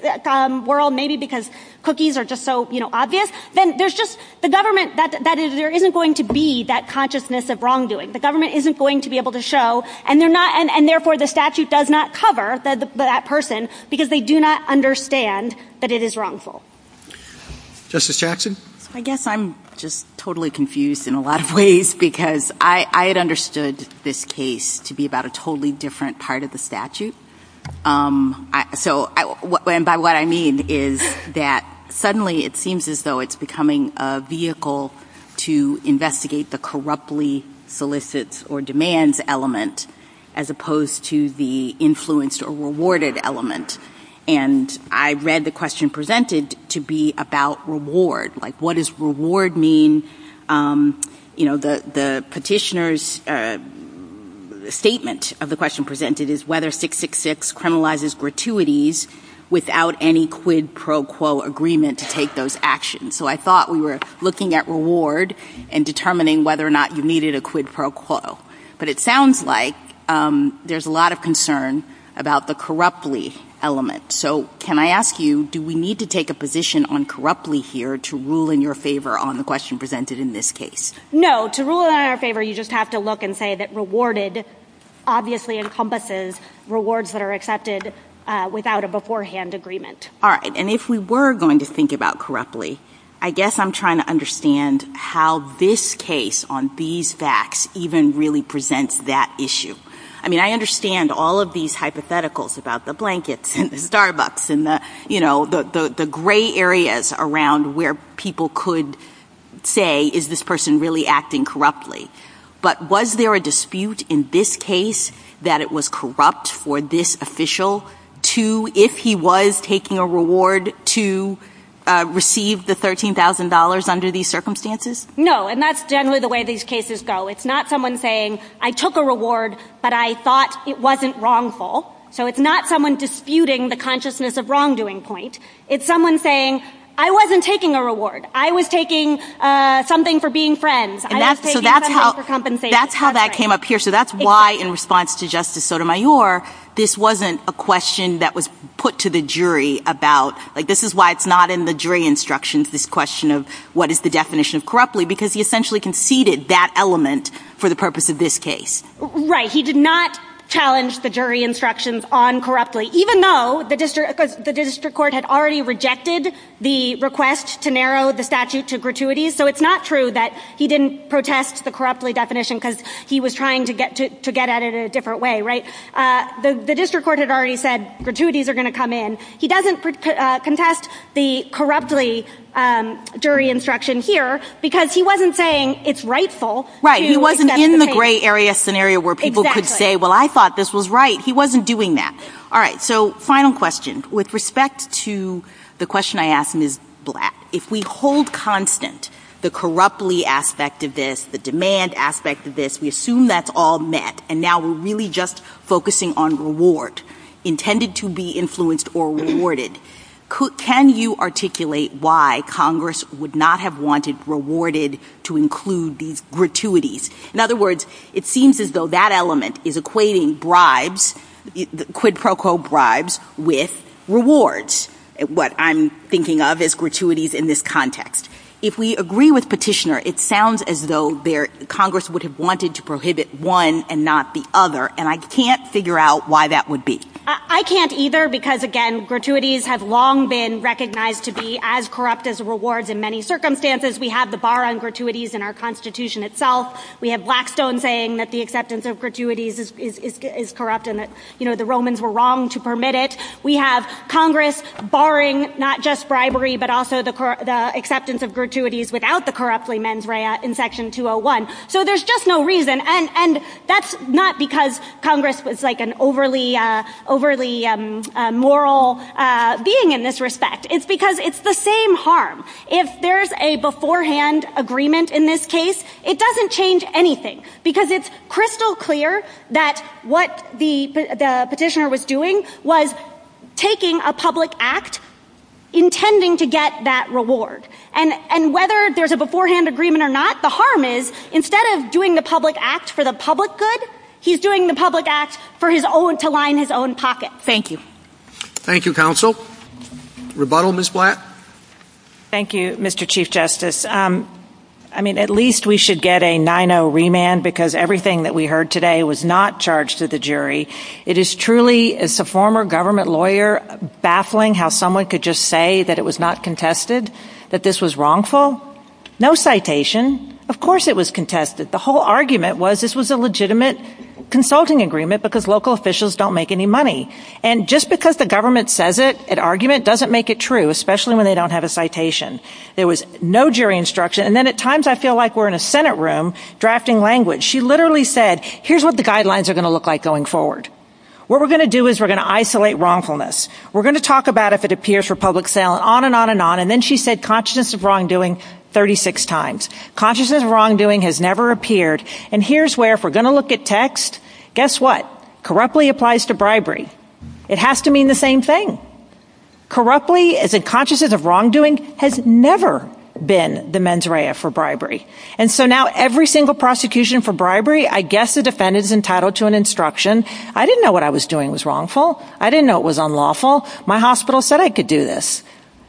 world maybe because cookies are just so obvious. Then there's just the government that there isn't going to be that consciousness of wrongdoing. The government isn't going to be able to show and therefore the statute does not cover that person because they do not understand that it is wrongful. Justice Jackson? I guess I'm just totally confused in a lot of ways because I had understood this case to be about a totally different part of the statute. So what I mean is that suddenly it seems as though it's becoming a vehicle to investigate the corruptly solicits or demands element as opposed to the influenced or rewarded element. And I read the question presented to be about reward. Like what does reward mean? You know, the petitioner's statement of the question presented is whether 666 criminalizes gratuities without any quid pro quo agreement to take those actions. So I thought we were looking at reward and determining whether or not you needed a quid pro quo. But it sounds like there's a lot of concern about the corruptly element. So can I ask you, do we need to take a position on corruptly here to rule in your favor on the question presented in this case? No, to rule in our favor you just have to look and say that rewarded obviously encompasses rewards that are accepted without a beforehand agreement. All right. And if we were going to think about corruptly, I guess I'm trying to understand how this case on these facts even really presents that issue. I mean, I understand all of these hypotheticals about the blankets and the Starbucks and the, you know, the gray areas around where people could say, is this person really acting corruptly? But was there a dispute in this case that it was corrupt for this official to, if he was taking a reward to receive the $13,000 under these circumstances? No. And that's generally the way these cases go. It's not someone saying, I took a reward, but I thought it wasn't wrongful. So it's not someone disputing the consciousness of wrongdoing point. It's someone saying, I wasn't taking a reward. I was taking something for being friends. And that's how that came up here. So that's why in response to Justice Sotomayor, this wasn't a question that was put to the jury about, like, this is why it's not in the jury instructions, this question of what is the definition of corruptly? Because he essentially conceded that element for the purpose of this case. Right. He did not challenge the jury instructions on corruptly, even though the district court had already rejected the request to narrow the statute to gratuities. So it's not true that he didn't protest the corruptly definition because he was trying to get at it in a different way, right? The district court had already said gratuities are going to come in. He doesn't contest the corruptly jury instruction here because he wasn't saying it's rightful. Right. He wasn't in the gray area scenario where people could say, well, I thought this was right. He wasn't doing that. All right. So final question. With respect to the question I asked Ms. Black, if we hold constant the corruptly aspect of this, the demand aspect of this, we assume that's all met. And now we're really just focusing on reward, intended to be influenced or rewarded. Can you articulate why Congress would not have wanted rewarded to include these gratuities? In other words, it seems as though that element is equating bribes, quid pro quo bribes with rewards, what I'm thinking of as gratuities in this context. If we agree with Petitioner, it sounds as though Congress would have wanted to prohibit one and not the other. And I can't figure out why that would be. I can't either, because again, gratuities have long been recognized to be as corrupt as rewards in many circumstances. We have the bar on gratuities in our constitution itself. We have Blackstone saying that the acceptance of gratuities is corrupt and that the Romans were wrong to permit it. We have Congress barring not just bribery, but also the acceptance of gratuities without the corruptly mens rea in section 201. So there's just no reason. And that's not because Congress was like an overly moral being in this respect. It's because it's the same harm. If there's a beforehand agreement in this case, it doesn't change anything, because it's crystal clear that what the Petitioner was doing was taking a public act intending to get that reward. And whether there's a beforehand agreement or not, the harm is, instead of doing the public acts for the public good, he's doing the public acts for his own, to line his own pocket. Thank you. Thank you, counsel. Rebuttal, Ms. Black. Thank you, Mr. Chief Justice. I mean, at least we should get a 9-0 remand because everything that we heard today was not charged to the jury. It is truly, as a former government lawyer, baffling how someone could just say that it was not contested, that this was wrongful. No citation. Of course it was contested. The whole argument was this was a legitimate consulting agreement because local officials don't make any money. And just because the government says it, an argument, doesn't make it true, especially when they don't have a citation. There was no jury instruction. And then at times I feel like we're in a Senate room drafting language. She literally said, here's what the guidelines are going to look like going forward. What we're going to do is we're going to isolate wrongfulness. We're going to talk about if it appears for public sale, on and on and on. And then she said consciousness of wrongdoing 36 times. Consciousness of wrongdoing has never appeared. And here's where, if we're going to look at text, guess what? Corruptly applies to bribery. It has to mean the same thing. Corruptly, as in consciousness of wrongdoing, has never been the mens rea for bribery. And so now every single prosecution for bribery, I guess the defendant is entitled to an instruction. I didn't know what I was doing was wrongful. I didn't know it was unlawful. My hospital said I could do this.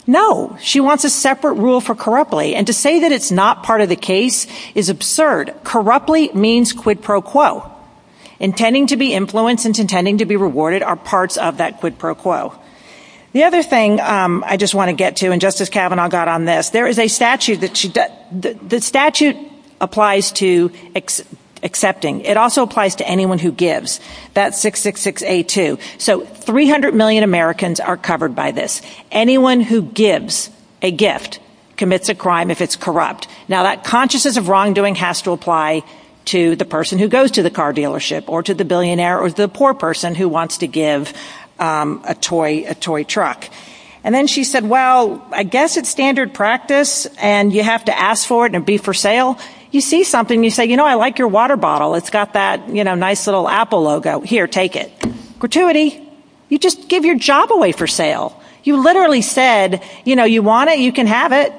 No. She wants a separate rule for corruptly. And to say that it's not part of the case is absurd. Corruptly means quid pro quo. Intending to be influenced and intending to be rewarded are parts of that quid pro quo. The other thing I just want to get to, and Justice Kavanaugh got on this. There is a statute that the statute applies to accepting. It also applies to anyone who gives. That's 666A2. So 300 million Americans are covered by this. Anyone who gives a gift commits a crime if it's corrupt. Now, that consciousness of wrongdoing has to apply to the person who goes to the car dealership or to the billionaire or the poor person who wants to give a toy truck. And then she said, well, I guess it's standard practice and you have to ask for it and be for sale. You see something, you say, you know, I like your water bottle. It's got that nice little Apple logo. Here, take it. Gratuity. You just give your job away for sale. You literally said, you know, you want it, you can have it,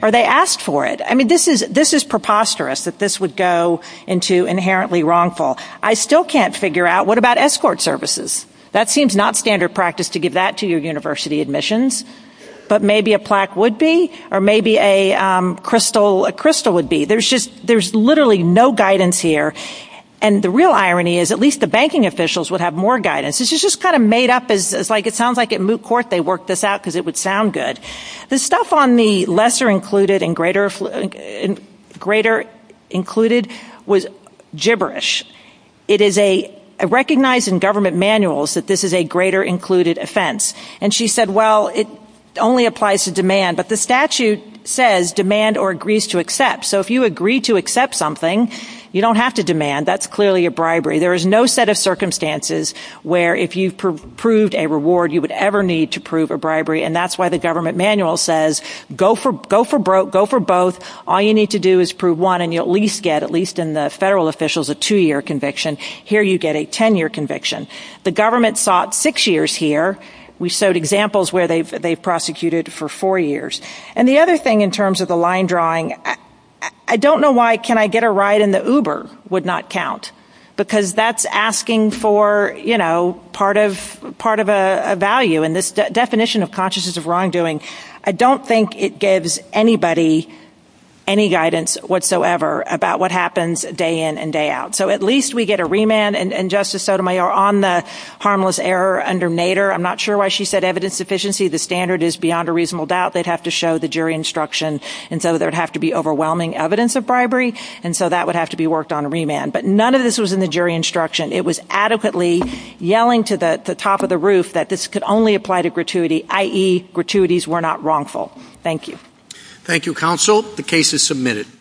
or they asked for it. I mean, this is preposterous that this would go into inherently wrongful. I still can't figure out what about escort services? That seems not standard practice to give that to your university admissions. But maybe a plaque would be or maybe a crystal would be. There's just, there's literally no guidance here. And the real irony is at least the banking officials would have more guidance. It's just kind of made up as like, it sounds like at Moot Court, they worked this out because it would sound good. The stuff on the lesser included and greater greater included was gibberish. It is a recognized in government manuals that this is a greater included offense. And she said, well, it only applies to demand. But the statute says demand or agrees to accept. So if you agree to accept something, you don't have to demand. That's clearly a bribery. There is no set of circumstances where if you proved a reward, you would ever need to prove a bribery. And that's why the government manual says, go for both. All you need to do is prove one and you at least get, at least in the federal officials, a two year conviction. Here you get a 10 year conviction. The government sought six years here. We showed examples where they prosecuted for four years. And the other thing in terms of the line drawing, I don't know why can I get a ride in the Uber would not count. Because that's asking for, you know, part of part of a value in this definition of consciousness of wrongdoing. I don't think it gives anybody any guidance whatsoever about what happens day in and day out. So at least we get a remand and Justice Sotomayor on the harmless error under Nader. I'm not sure why she said evidence deficiency. The standard is beyond a reasonable doubt. They'd have to show the jury instruction. And so there would have to be overwhelming evidence of bribery. And so that would have to be worked on a remand. But none of this was in the jury instruction. It was adequately yelling to the top of the roof that this could only apply to gratuity, i.e. gratuities were not wrongful. Thank you. Thank you, counsel. The case is submitted.